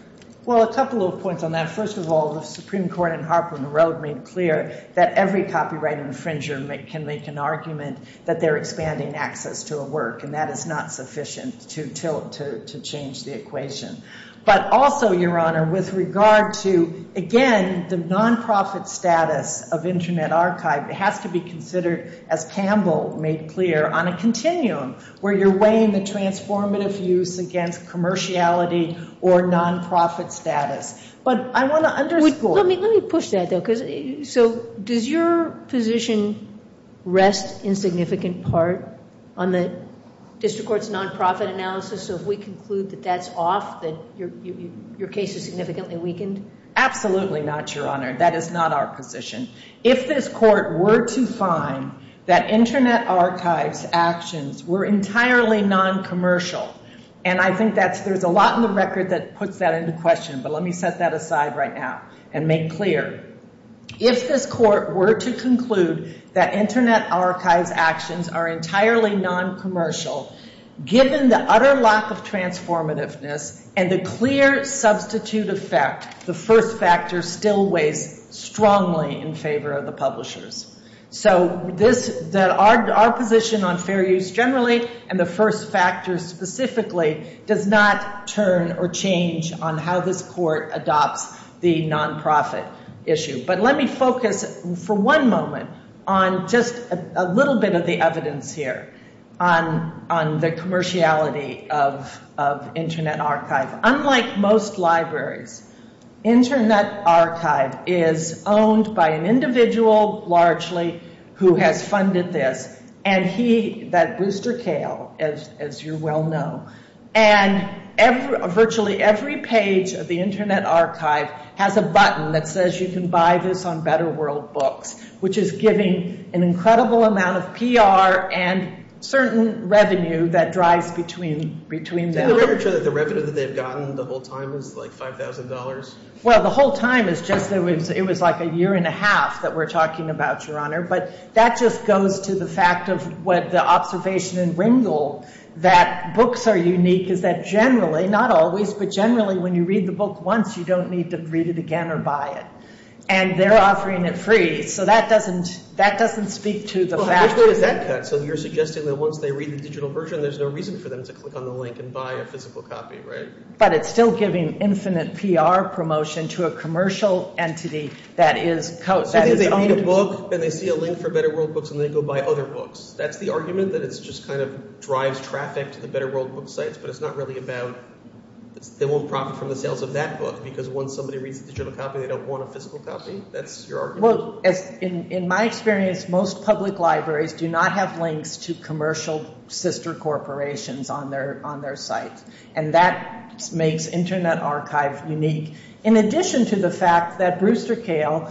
Well, a couple of points on that. First of all, the Supreme Court and Harper and Rode made it clear that every copyright infringer can make an argument that they are expanding access to a work and that is not sufficient to change the equation. But also, Your Honor, with regard to, again, the non-profit status of Internet Archive, it has to be considered, as Campbell made clear, on a continuum where you are weighing the transformative use against commerciality or non-profit status. But I want to... Let me push that though because, so, does your position rest in significant part on the District Court's non-profit analysis so if we conclude that that's off then your case is significantly weakened? Absolutely not, Your Honor. That is not our position. If this Court were to find that Internet Archive's actions were entirely non-commercial and I think that's... There's a lot in the record that puts that into question but let me set that aside right now and make clear. If this Court were to conclude that Internet Archive's actions are entirely non-commercial, given the utter loss of transformativeness and a clear substitute effect, the first factor still weighs strongly in favor of the publishers. So our position on fair use generally and the first factor specifically does not turn or change on how this Court adopts the non-profit issue. But let me focus for one moment on just a little bit of the evidence here on the commerciality of Internet Archive. Unlike most libraries, Internet Archive is owned by an individual, who has funded this and he, that booster tail, as you well know, and virtually every page of the Internet Archive has a button that says you can buy this on Better World Books, which is giving an incredible amount of PR and certain revenue that drives between them. In order to... The revenue they've gotten the whole time is like $5,000? Well, the whole time is just... It was like a year and a half that we're talking about, But that just goes to the fact of what the observation in Ringel that books are unique is that generally, not always, but generally, when you read the book once you don't need to read it again or buy it. And they're offering it free. So that doesn't... That doesn't speak to the fact... So you're suggesting that once they read the digital version there's no reason for them to click on the link and buy a physical copy, right? But it's still giving infinite PR promotion to a commercial entity that is... So they own the book and they see a link for Better World Books and they go buy other books. That's the argument that it just kind of drives traffic to the Better World Books site but it's not really about... They won't profit from the sales of that book because once somebody reads the digital copy they don't want a physical copy? That's your argument? Well, in my experience most public libraries do not have links to commercial sister corporations on their site. And that makes Internet Archive unique. In addition to the fact that Brewster Kahle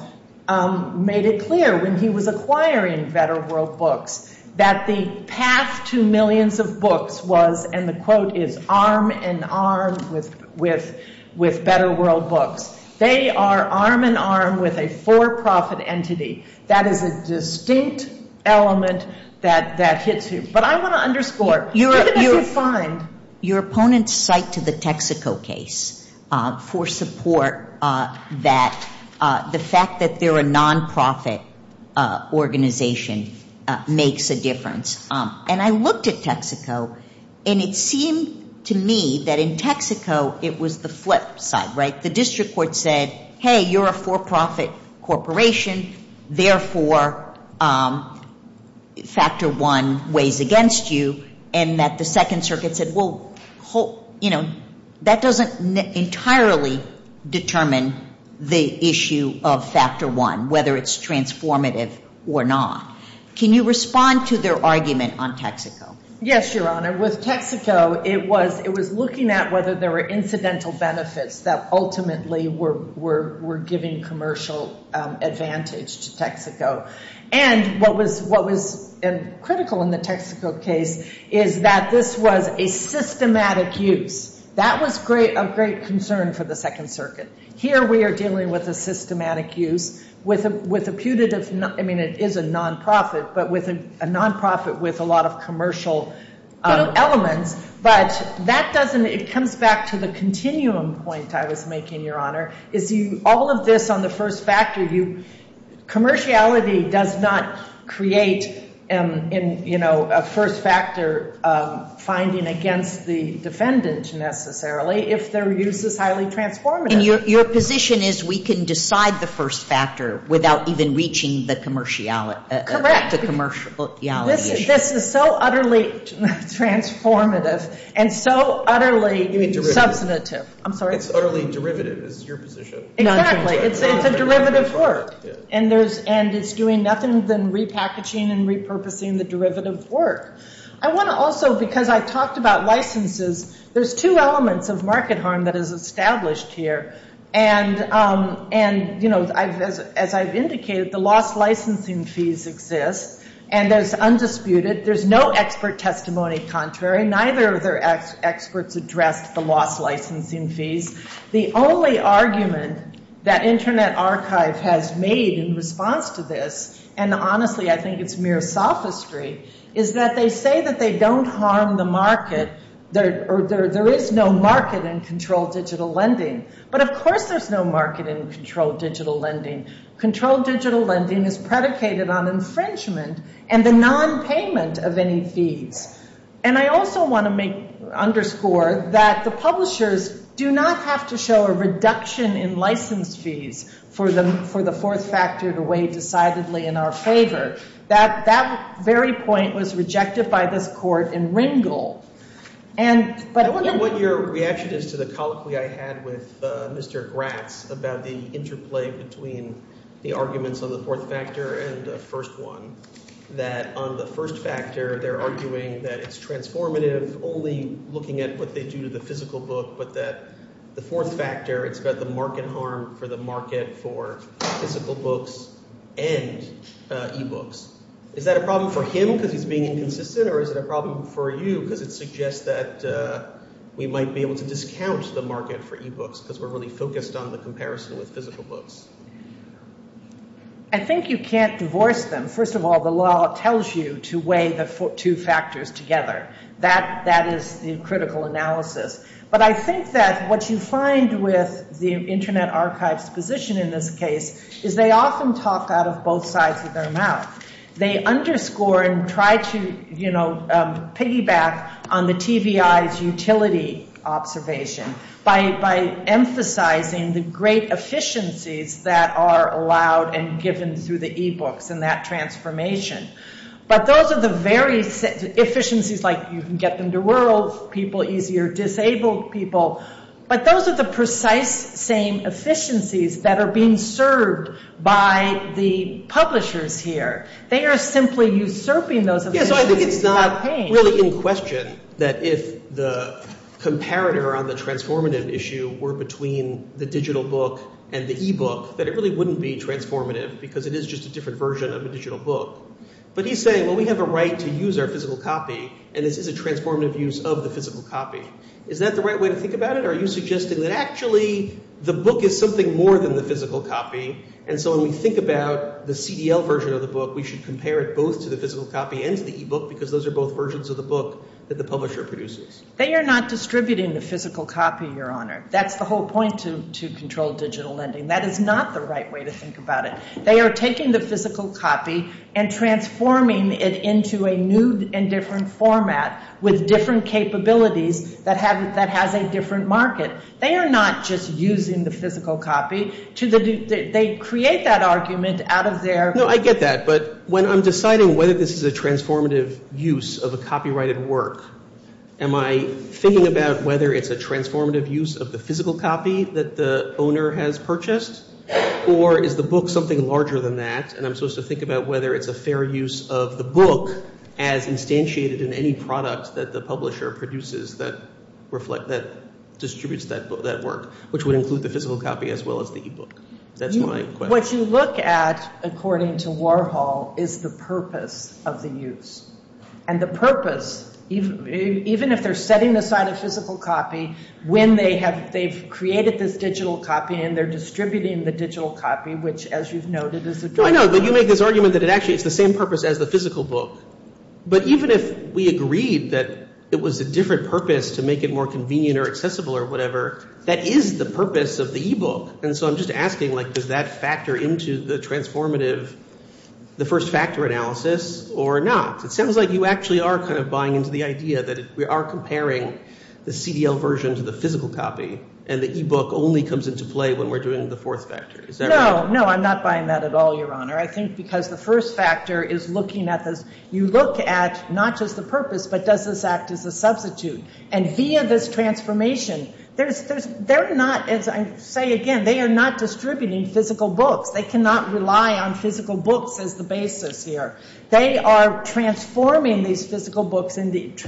made it clear when he was acquiring Better World Books that the past two millions of books was, and the quote is, arm and arm with Better World Books. They are arm and arm with a for-profit entity. That is a distinct element that hits you. But I want to underscore you're fine... Your opponents cite to the Texaco case for support that the fact that they're a non-profit organization makes a difference. And I looked at Texaco and it seemed to me that in Texaco it was the flip side, right? The district court said, hey, you're a for-profit corporation therefore factor one weighs against you and that the Second Circuit said, well, you know, that doesn't entirely determine the issue of factor one, whether it's transformative or not. Can you respond to their argument on Texaco? Yes, Your Honor. With Texaco, it was looking at whether there were incidental benefits that ultimately were giving commercial advantage to Texaco. And what was critical in the Texaco case is that this was a systematic use. That was a great concern for the Second Circuit. Here we are dealing with a systematic use with a putative, I mean, it is a non-profit, but with a non-profit with a lot of commercial elements. But that doesn't, it comes back to the continuum point I was making, Your Honor. If you, all of this on the first factor, commerciality does not create a first factor finding against the defendant necessarily, if their use is highly transformative. And your position is we can decide the first factor without even reaching the commerciality. Correct. The commerciality. This is so utterly transformative and so utterly substantive. I'm sorry? It's utterly derivative, is your position. Exactly. It's a derivative work. And it's doing nothing but repackaging and repurposing the derivative work. I want to also, because I talked about licenses, there's two elements of market harm that is established here. And, you know, as I've indicated, the lost licensing fees exist. And they're undisputed. There's no expert testimony contrary. Neither of their experts address the lost licensing fees. The only argument that Internet Archive has made in response to this, and honestly, I think it's mere sophistry, is that they say that they don't harm the market. There is no market in controlled digital lending. But, of course, there's no market in controlled digital lending. Controlled digital lending is predicated on infringement and the nonpayment of any fees. And I also want to underscore that the publishers do not have to show a reduction in license fees for the fourth factor to weigh decidedly in our favor. That very point was rejected by this court in Ringel. I don't know what your reaction is to the colloquy I had with Mr. Gratz about the interplay between the arguments on the fourth factor and the first one, that on the first factor, they're arguing that it's transformative only looking at what they do to the physical book, but that the fourth factor is that the market harmed for the market for physical books and e-books. Is that a problem for him because he's being inconsistent or is it a problem for you because it suggests that we might be able to discount the market for e-books because we're really focused on the comparison of physical books? I think you can't divorce them. First of all, the law tells you to weigh the two factors together. That is the critical analysis. But I think that what you find with the Internet Archive's position in this case is they often talk out of both sides of their mouth. They underscore and try to, you know, piggyback on the TVI's utility observation by emphasizing the great efficiencies that are allowed and given through the e-books and that transformation. But those are the very efficiencies like you can get them to rural people easier, disabled people. But those are the precise same efficiencies that are being served by the publishers here. They are simply usurping those efficiencies. I think it's not really in question that if the comparator on the transformative issue were between the digital book and the e-book that it really wouldn't be transformative because it is just a different version of the digital book. But he's saying, well, we have a right to use our physical copy and this is a transformative use of the physical copy. Is that the right way to think about it or are you suggesting that actually the book is something more than the physical copy and so when we think about the CDL version of the book we should compare it both to the physical copy and to the e-book because those are both versions of the book that the publisher produces. They are not distributing the physical copy, Your Honor. That's the whole point to control digital lending. That is not the right way to think about it. They are taking the physical copy and transforming it into a new and different format with different capabilities that has a different market. They are not just using the physical copy. They create that argument out of their... No, I get that. But when I'm deciding whether this is a transformative use of a copyrighted work, am I thinking about whether it's a transformative use of the physical copy that the owner has purchased or is the book something larger than that and I'm supposed to think about whether it's a fair use of the book as instantiated in any product that the publisher produces that distributes that work which would include the physical copy as well as the e-book. That's my question. What you look at according to Warhol is the purpose of the use and the purpose even if they're setting this out as physical copy when they've created this digital copy and they're distributing the digital copy which as you've noted is the... I know, but you make this argument that actually it's the same purpose as the physical book. But even if we agreed that it was a different purpose to make it more convenient or accessible or whatever, that is the purpose of the e-book and so I'm just asking does that factor into the transformative, the first factor analysis or not? It sounds like you actually are kind of buying into the idea that if we are comparing the CDL version to the physical copy and the e-book only comes into play when we're doing the fourth factor. Is that right? No, no, I'm not buying that at all, Your Honor. I think because the first factor is looking at the... You look at not just the purpose but does this act as a substitute and via this transformation they're not as I say again they are not distributing physical books. They cannot rely on physical books as the basis here. They are transforming these physical books into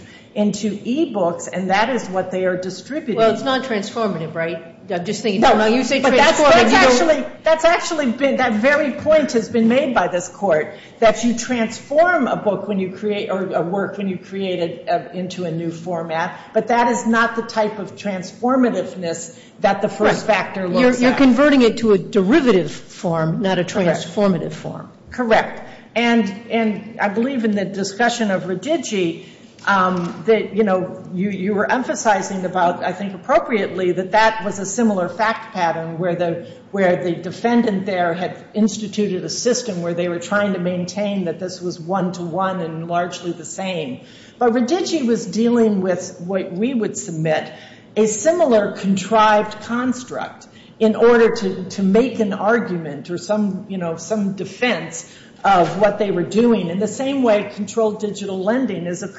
e-books and that is what they are distributing. Well, it's not transformative, right? No, no, you think that's what I'm saying. That's actually that very point that's been made by this court that you transform a book when you create or a work when you create it into a new format but that is not the type of transformativeness that the first factor looks at. You're converting it to a derivative form not a transformative form. Correct. And I believe in the discussion of Redigi that you know you were emphasizing about I think appropriately that that was a similar fact pattern where the defendant there had instituted a system where they were trying to maintain that this was one-to-one and largely the same but Redigi was dealing with what we would submit a similar contrived construct in order to make an argument or some you know some defense of what they were doing in the same way controlled digital lending is a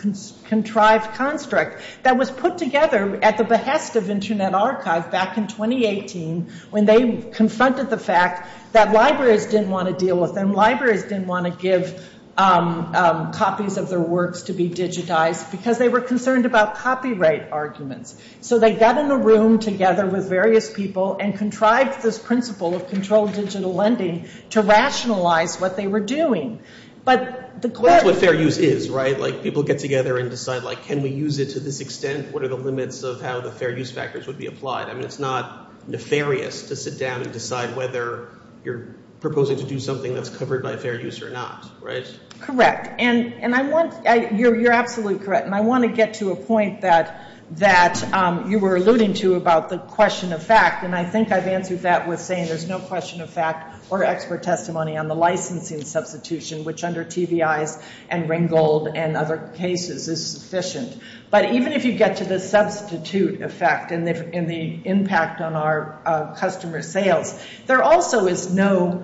contrived construct that was put together at the behest of Internet Archive back in 2018 when they confronted the fact that libraries didn't want to deal with them. Libraries didn't want to give copies of their works to be digitized because they were concerned about copyright arguments. So they got in the room together with various people and contrived this principle of controlled digital lending to rationalize what they were doing. But the question... That's what fair use is, right? Like people get together and decide like can we use this to this extent? What are the limits of how the fair use factors would be applied? I mean it's not nefarious to sit down and decide whether you're proposing to do something that's covered by fair use or not, right? Correct. And I want... You're absolutely correct and I want to get to a point that you were alluding to about the question of fact and I think I've answered that with saying there's no question of fact or expert testimony on the licensing substitution which under TVI's and Ringgold and other cases is sufficient. But even if you get to the substitute effect and the impact on our customer sales, there also is no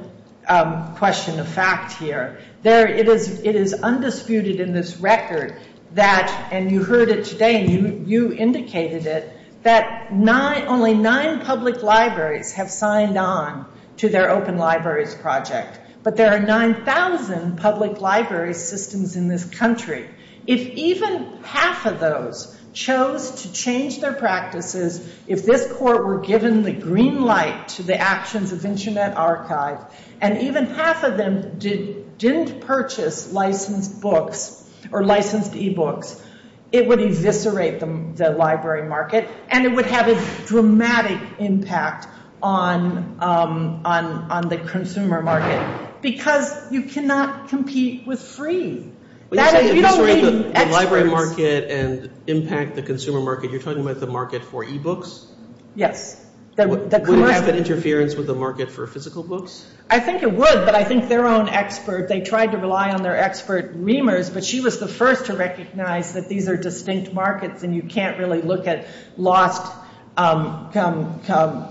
question of fact here. There... It is undisputed in this record that... And you heard it today and you indicated it that not only nine public libraries have signed on to their open libraries project but there are 9,000 public library systems in this country. If even half of those chose to change their practices, if this court were given the green light to the actions of Internet Archive and even half of them didn't purchase licensed books or licensed e-books, it would eviscerate the library market and it would have a dramatic impact on the consumer market as a whole. Because you cannot compete with free. That is... You don't need... Library market and impact the consumer market, you're talking about the market for e-books? Yes. Would it have an interference with the market for physical books? I think it would but I think their own expert, they tried to rely on their expert, Meemers, but she was the first to recognize that these are distinct markets and you can't really look at lost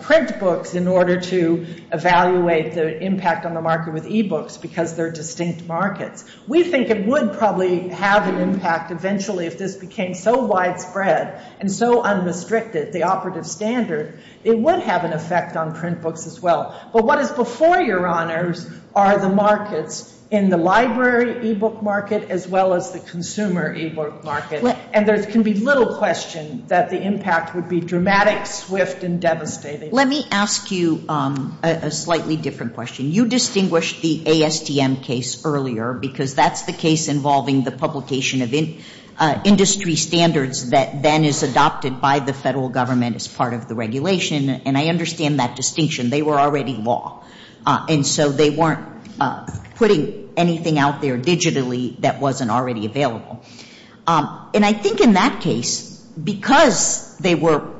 print books in order to evaluate the impact on the market with e-books because they're distinct markets. We think it would probably have an impact eventually if this became so widespread and so unrestricted. They offered a standard. It would have an effect on print books as well. But what is before your honors are the markets in the library e-book market as well as the consumer e-book market and there can be little question that the impact would be dramatic, swift, and devastating. Let me ask you a slightly different question. You distinguished the ASTM case earlier because that's the case involving the publication of industry standards that then is adopted by the federal government as part of the regulation and I understand that distinction. They were already law and so they weren't putting anything out there digitally that wasn't already available. And I think in that case because they were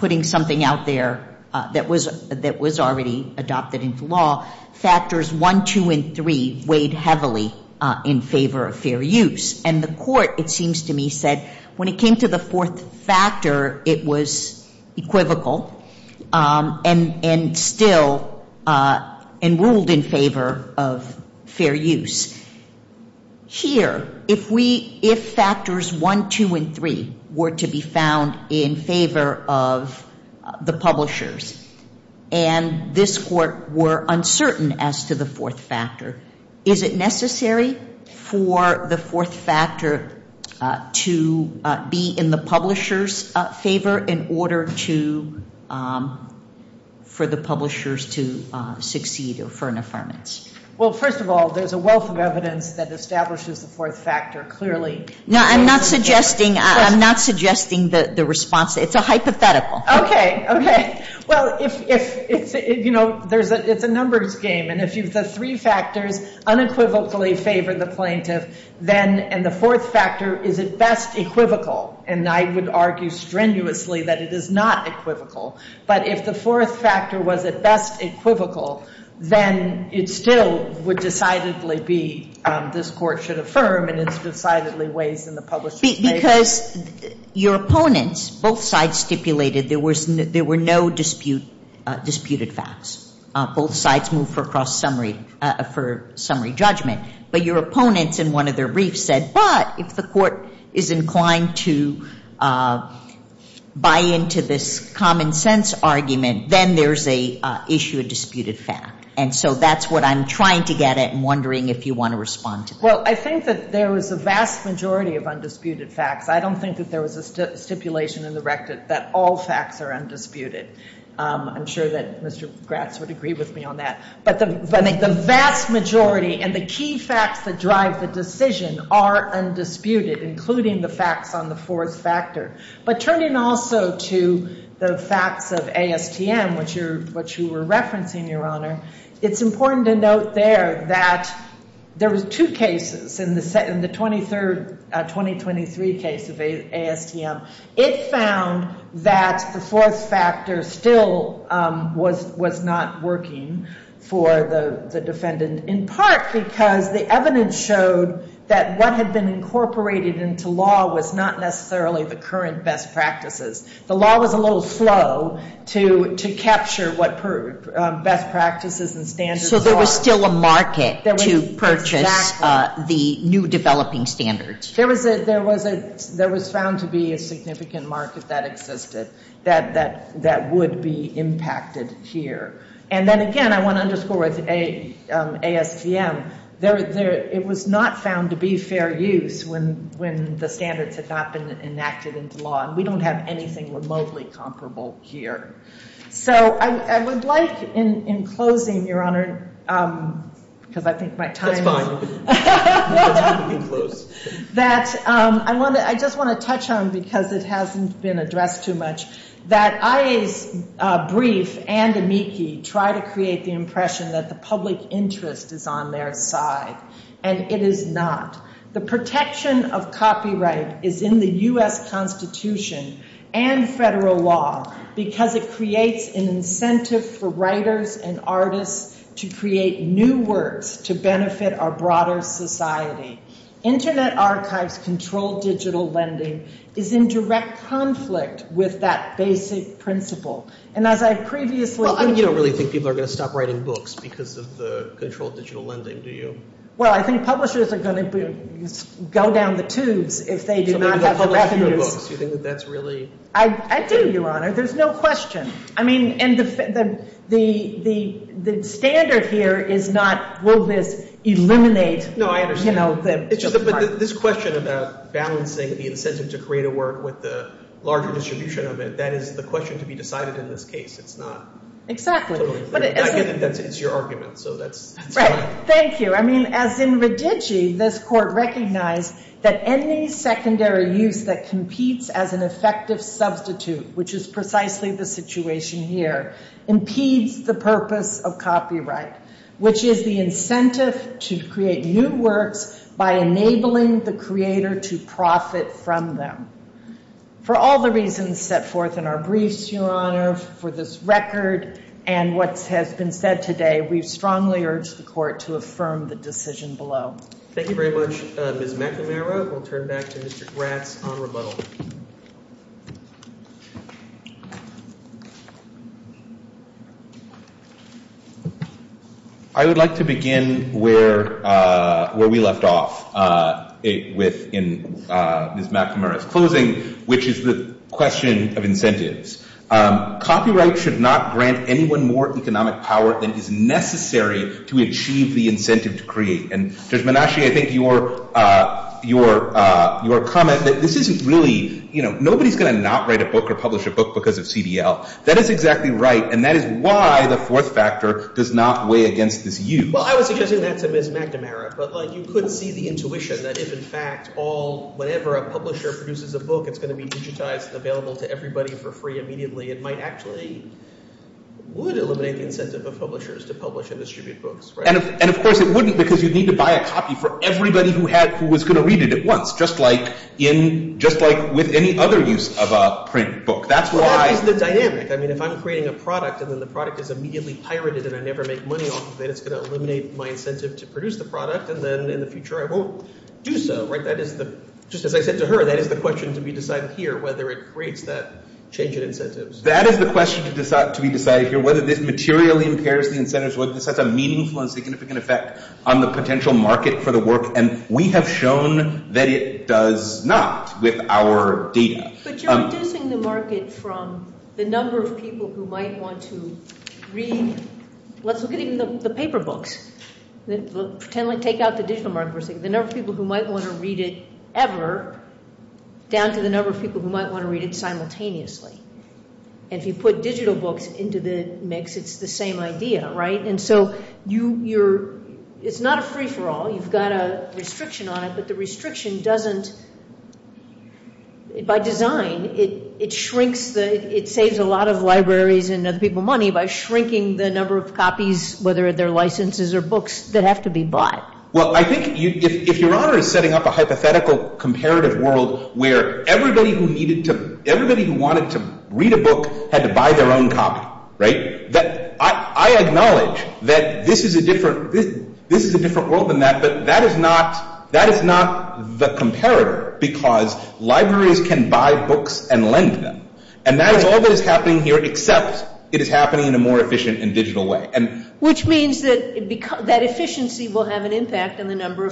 putting something out there that was already adopted into factors 1, 2, and 3 weighed heavily in favor of fair use. And the court it seems to me said when it came to the fourth factor it was equivocal and still ruled in favor of fair use. Here, if factors 1, 2, and 3 were to be found in favor of the publishers and this court were uncertain as to the fourth factor. Is it necessary for the fourth factor to be in the favor in order to for the publishers to succeed or for an affirmance? Well, first of all, there's a wealth of evidence that establishes the fourth factor clearly. I'm not suggesting the response. It's a hypothetical. Okay. Okay. Well, it's a numbers game. Three factors unequivocally favor the plaintiff and the fourth factor is at best equivocal. And I would strenuously that it is not equivocal. But if the fourth factor was at best equivocal, then it still would decidedly be this court should affirm and it's decidedly waived in the publisher's Because your opponents, both sides stipulated there were no disputed facts. Both sides moved for summary judgment. But your opponents in one of their briefs said, but if the court is inclined to buy into this fact. And so that's what I'm trying to get at and wondering if you want to respond. Well, I think that there was a vast majority of undisputed facts. I don't think that there was a stipulation in the rectus that all facts are undisputed. I'm sure that Mr. Gratz would agree with me on that. But the vast majority and the key facts that drive the decision are undisputed including the facts on the fourth factor. But turning also to the facts of ASTM, which you were referencing your Honor, it's important to note there that there were two cases in the 23rd, 2023 case of ASTM. It found that the fourth factor still was not working for the defendant. In part because the evidence showed that what had been incorporated into law was not necessarily the current best practices. The law was a little slow to capture what best practices and standards were. So there was still a market to purchase the new developing standards. There was found to be a significant market that existed that would be impacted here. And then again, I want to underscore with ASTM, it was not found to be fair use when the standards had not been enacted into law. We don't have anything remotely comparable here. So I would like in closing, Your Honor, because I think my time is up, that I just want to touch on because it hasn't been addressed too much, that I briefed and amici tried to create the impression that the public interest is on their side. And it is not. The protection of copyright is in the U.S. Constitution and federal law because it creates an incentive for writers and artists to create new words to benefit our broader society. Internet archives control digital lending is in direct conflict with that basic principle. And as I previously said, think people are going to stop writing books because of control of digital lending. I think publishers are going to go down the I think there is no question. The standard here is not will this eliminate the digital This question about balancing the incentive to create a work is the question to be decided in this case. It is not your argument. Thank you. This court recognized that any secondary use that competes as an effective substitute impedes the purpose of copyright, which is the incentive to create new works by enabling the creator to profit from them. For all the reasons set forth in our briefs, Your Honor, for this record, and what has been said today, we strongly urge the court to affirm the decision below. Thank you. Thank you very much. We will turn back to Mr. Graf. I would like to begin where we left off in Ms. McNamara's closing, which is the question of Copyright should not grant anyone more economic power than is necessary to achieve the incentive to create. Judge Graf, comment is that nobody is going to not write a book or publish a book because of CDL. That is exactly right, and that is why the fourth factor does not weigh against this use. I would suggest that Ms. McNamara should write That is exactly right, and that is why the fourth factor does not weigh against this use. I would suggest that the we have shown that it does not with our data. you are the market from the number of people who might want to read it down to the number of people who might want to read it simultaneously. If you put digital books into the mix, it is the same idea. It is not a free-for-all. You have a restriction on it, but the restriction by design saves a lot of libraries and libraries can buy books and lend them. That is happening here, except it is happening in a more efficient and digital way. It may or may have an effect on the number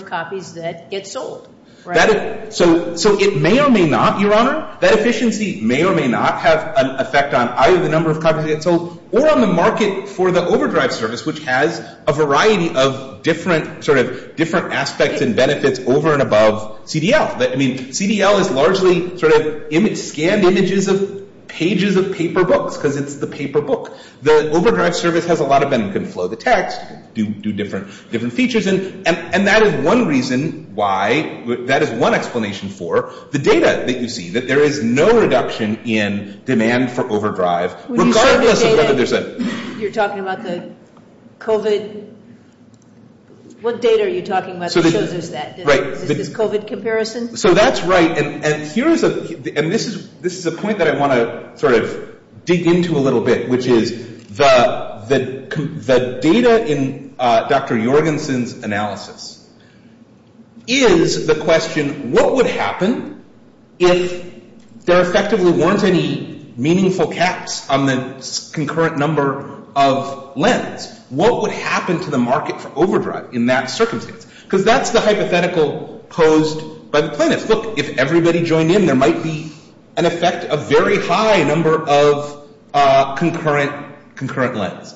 of copies sold, or on the market for the overdrive service, which has a variety of different aspects and benefits over and above CDL. CDL is largely scanned images, pages of paper books. The overdrive service has a lot of benefits. That is one reason why that is one explanation for. The data you see, there is no reduction in demand for overdrive. That is right. This is a point I want to dig into a little bit. The data in Dr. Jorgensen's analysis is the question of what would happen if there effectively were not any meaningful caps on the concurrent number of What would happen to the market for overdrive in that circumstance? That is the hypothetical posed by the question. levels?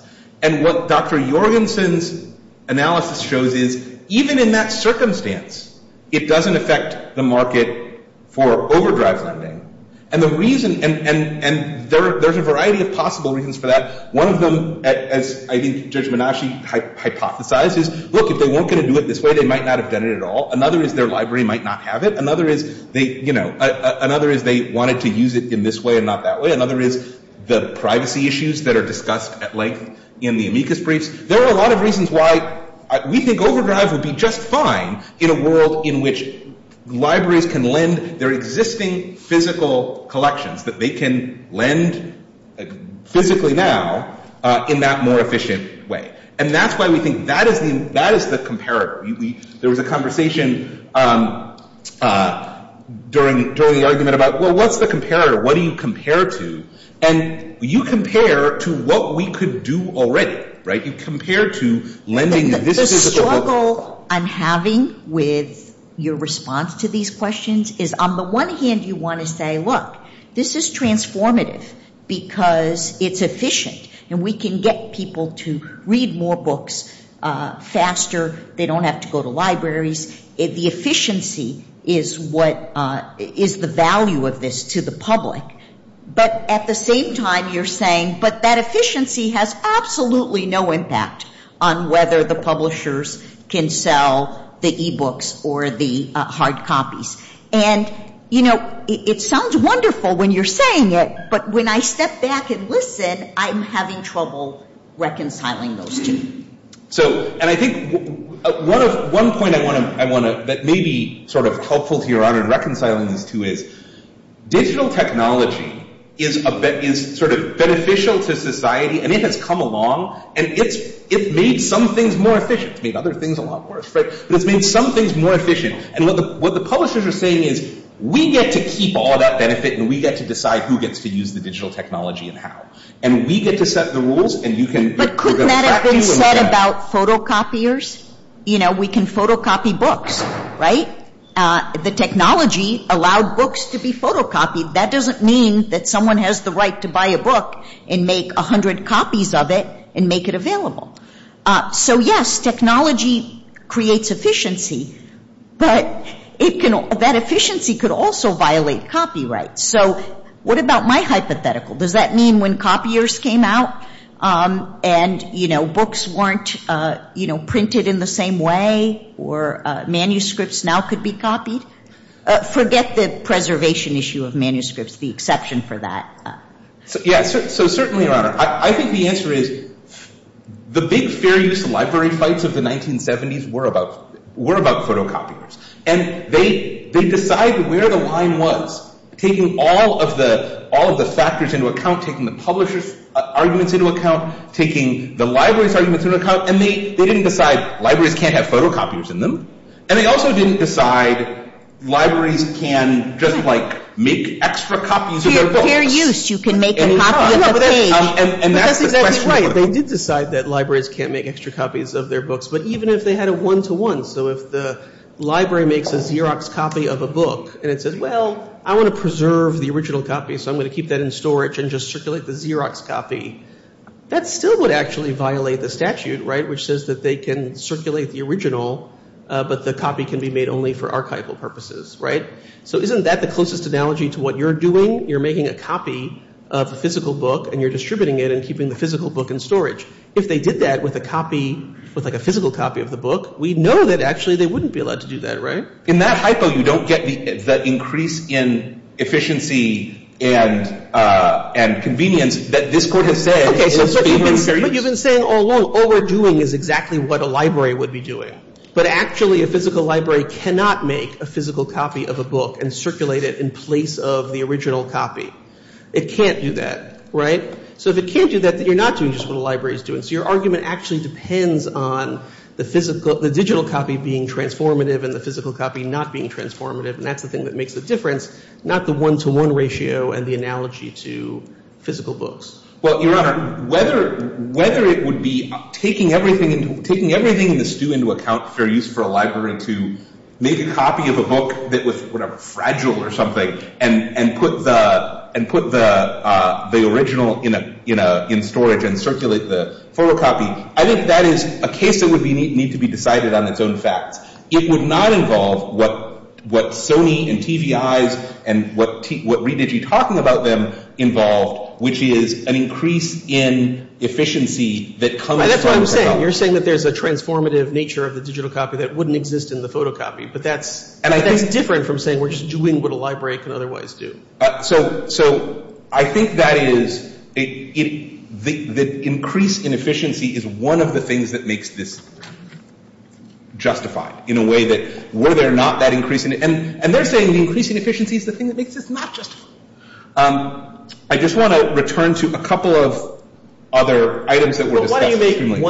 What Dr. Jorgensen's analysis shows is even in that circumstance, it does not affect the market for overdrive funding. There are a variety of possible reasons for that. One of them is look, if they can lend their existing physical collections, they can lend physically now in that more efficient way. That is why we think that is the comparator. There was a conversation during the argument about what is the comparator? What do you compare to? And you compare to what we could do already. You compare to lending your physical collections. The struggle I'm having with your response to these questions is on the one hand, you want to say this is transformative because it is efficient and we can get people to read more books faster and they can That efficiency has absolutely no impact on whether the publishers can sell the e-books or the hard copies. It sounds wonderful when you are saying it, but when I step back and listen, I am having trouble reconciling those two. One point that may be helpful here in reconciling the two is digital technology is sort of beneficial to society and it has come along and it made some things more efficient. What the publishers are saying is we get to keep all that benefit and we get to decide who gets to use the digital technology and how. We get to set the rules. We can photocopy books. The technology allowed books to be photocopied. That doesn't mean that someone has the right to buy a book and make 100 copies of it and make it available. Yes, technology creates efficiency, but that efficiency could also violate copyright. What about my hypothetical? Does that mean when copiers came out and books weren't printed in the same way or manuscripts now could be copied? Forget the preservation issue of the exception for that. I think the answer is the big series of libraries of the 1970s were about photocopying. They decided where the line was taking all of the publishers and the libraries and they didn't decide libraries can't have photocopies in them and they didn't decide libraries can't make extra copies. They did decide that can't make extra copies of their books. But even if they had a one-to-one, so if the library makes a Xerox copy of a book and says I want to preserve the original copy so I'm going to keep that in storage and circulate the Xerox copy, that would violate the physical copy of the book. In that hypo, you don't get the increase in efficiency and convenience that this court has said. You've been saying all along all we're doing is exactly what a library would be doing. But actually a physical library cannot make a physical copy of a book and circulate it in place of the original copy. It can't do that. So if it can't do that, you're not doing just what a library is So your actually depends on the digital copy being transformative and the physical copy not being transformative. That's the thing that makes the difference, not the one-to-one ratio. Whether it would be taking everything into account for a library to make a copy of a book that was fragile or something and put the original in storage and circulate the photocopy, I think that is a case that would need to be decided on its own side. It would not involve what Sony and TV eyes and what ReDigi talking about them involved, which is an increase in efficiency that comes from the increase in efficiency. I just want to return to a couple of other items. I think that is TV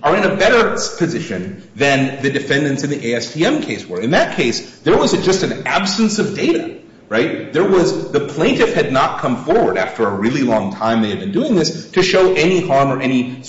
are in a better position than the defendants in the ASTM case were. In that case, there was an absence of data. The plaintiff had not come forward after a long time to show any harm or any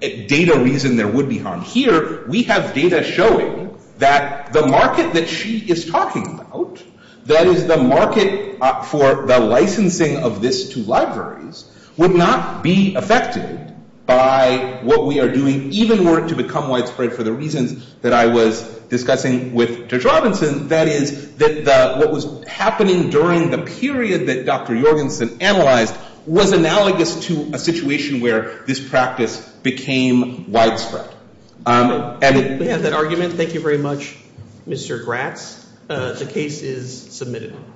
data reason there would be. data showing that the market that she is talking about, that is, the market for the licensing of this to would not be affected by what we are doing, even were it to become widespread for the reason that I was discussing with Mr. Robinson, that is, what was happening during the period that Dr. Jorgensen analyzed was analogous to a situation where this practice became widespread. Thank you very much, Mr. Gratz. The case is submitted.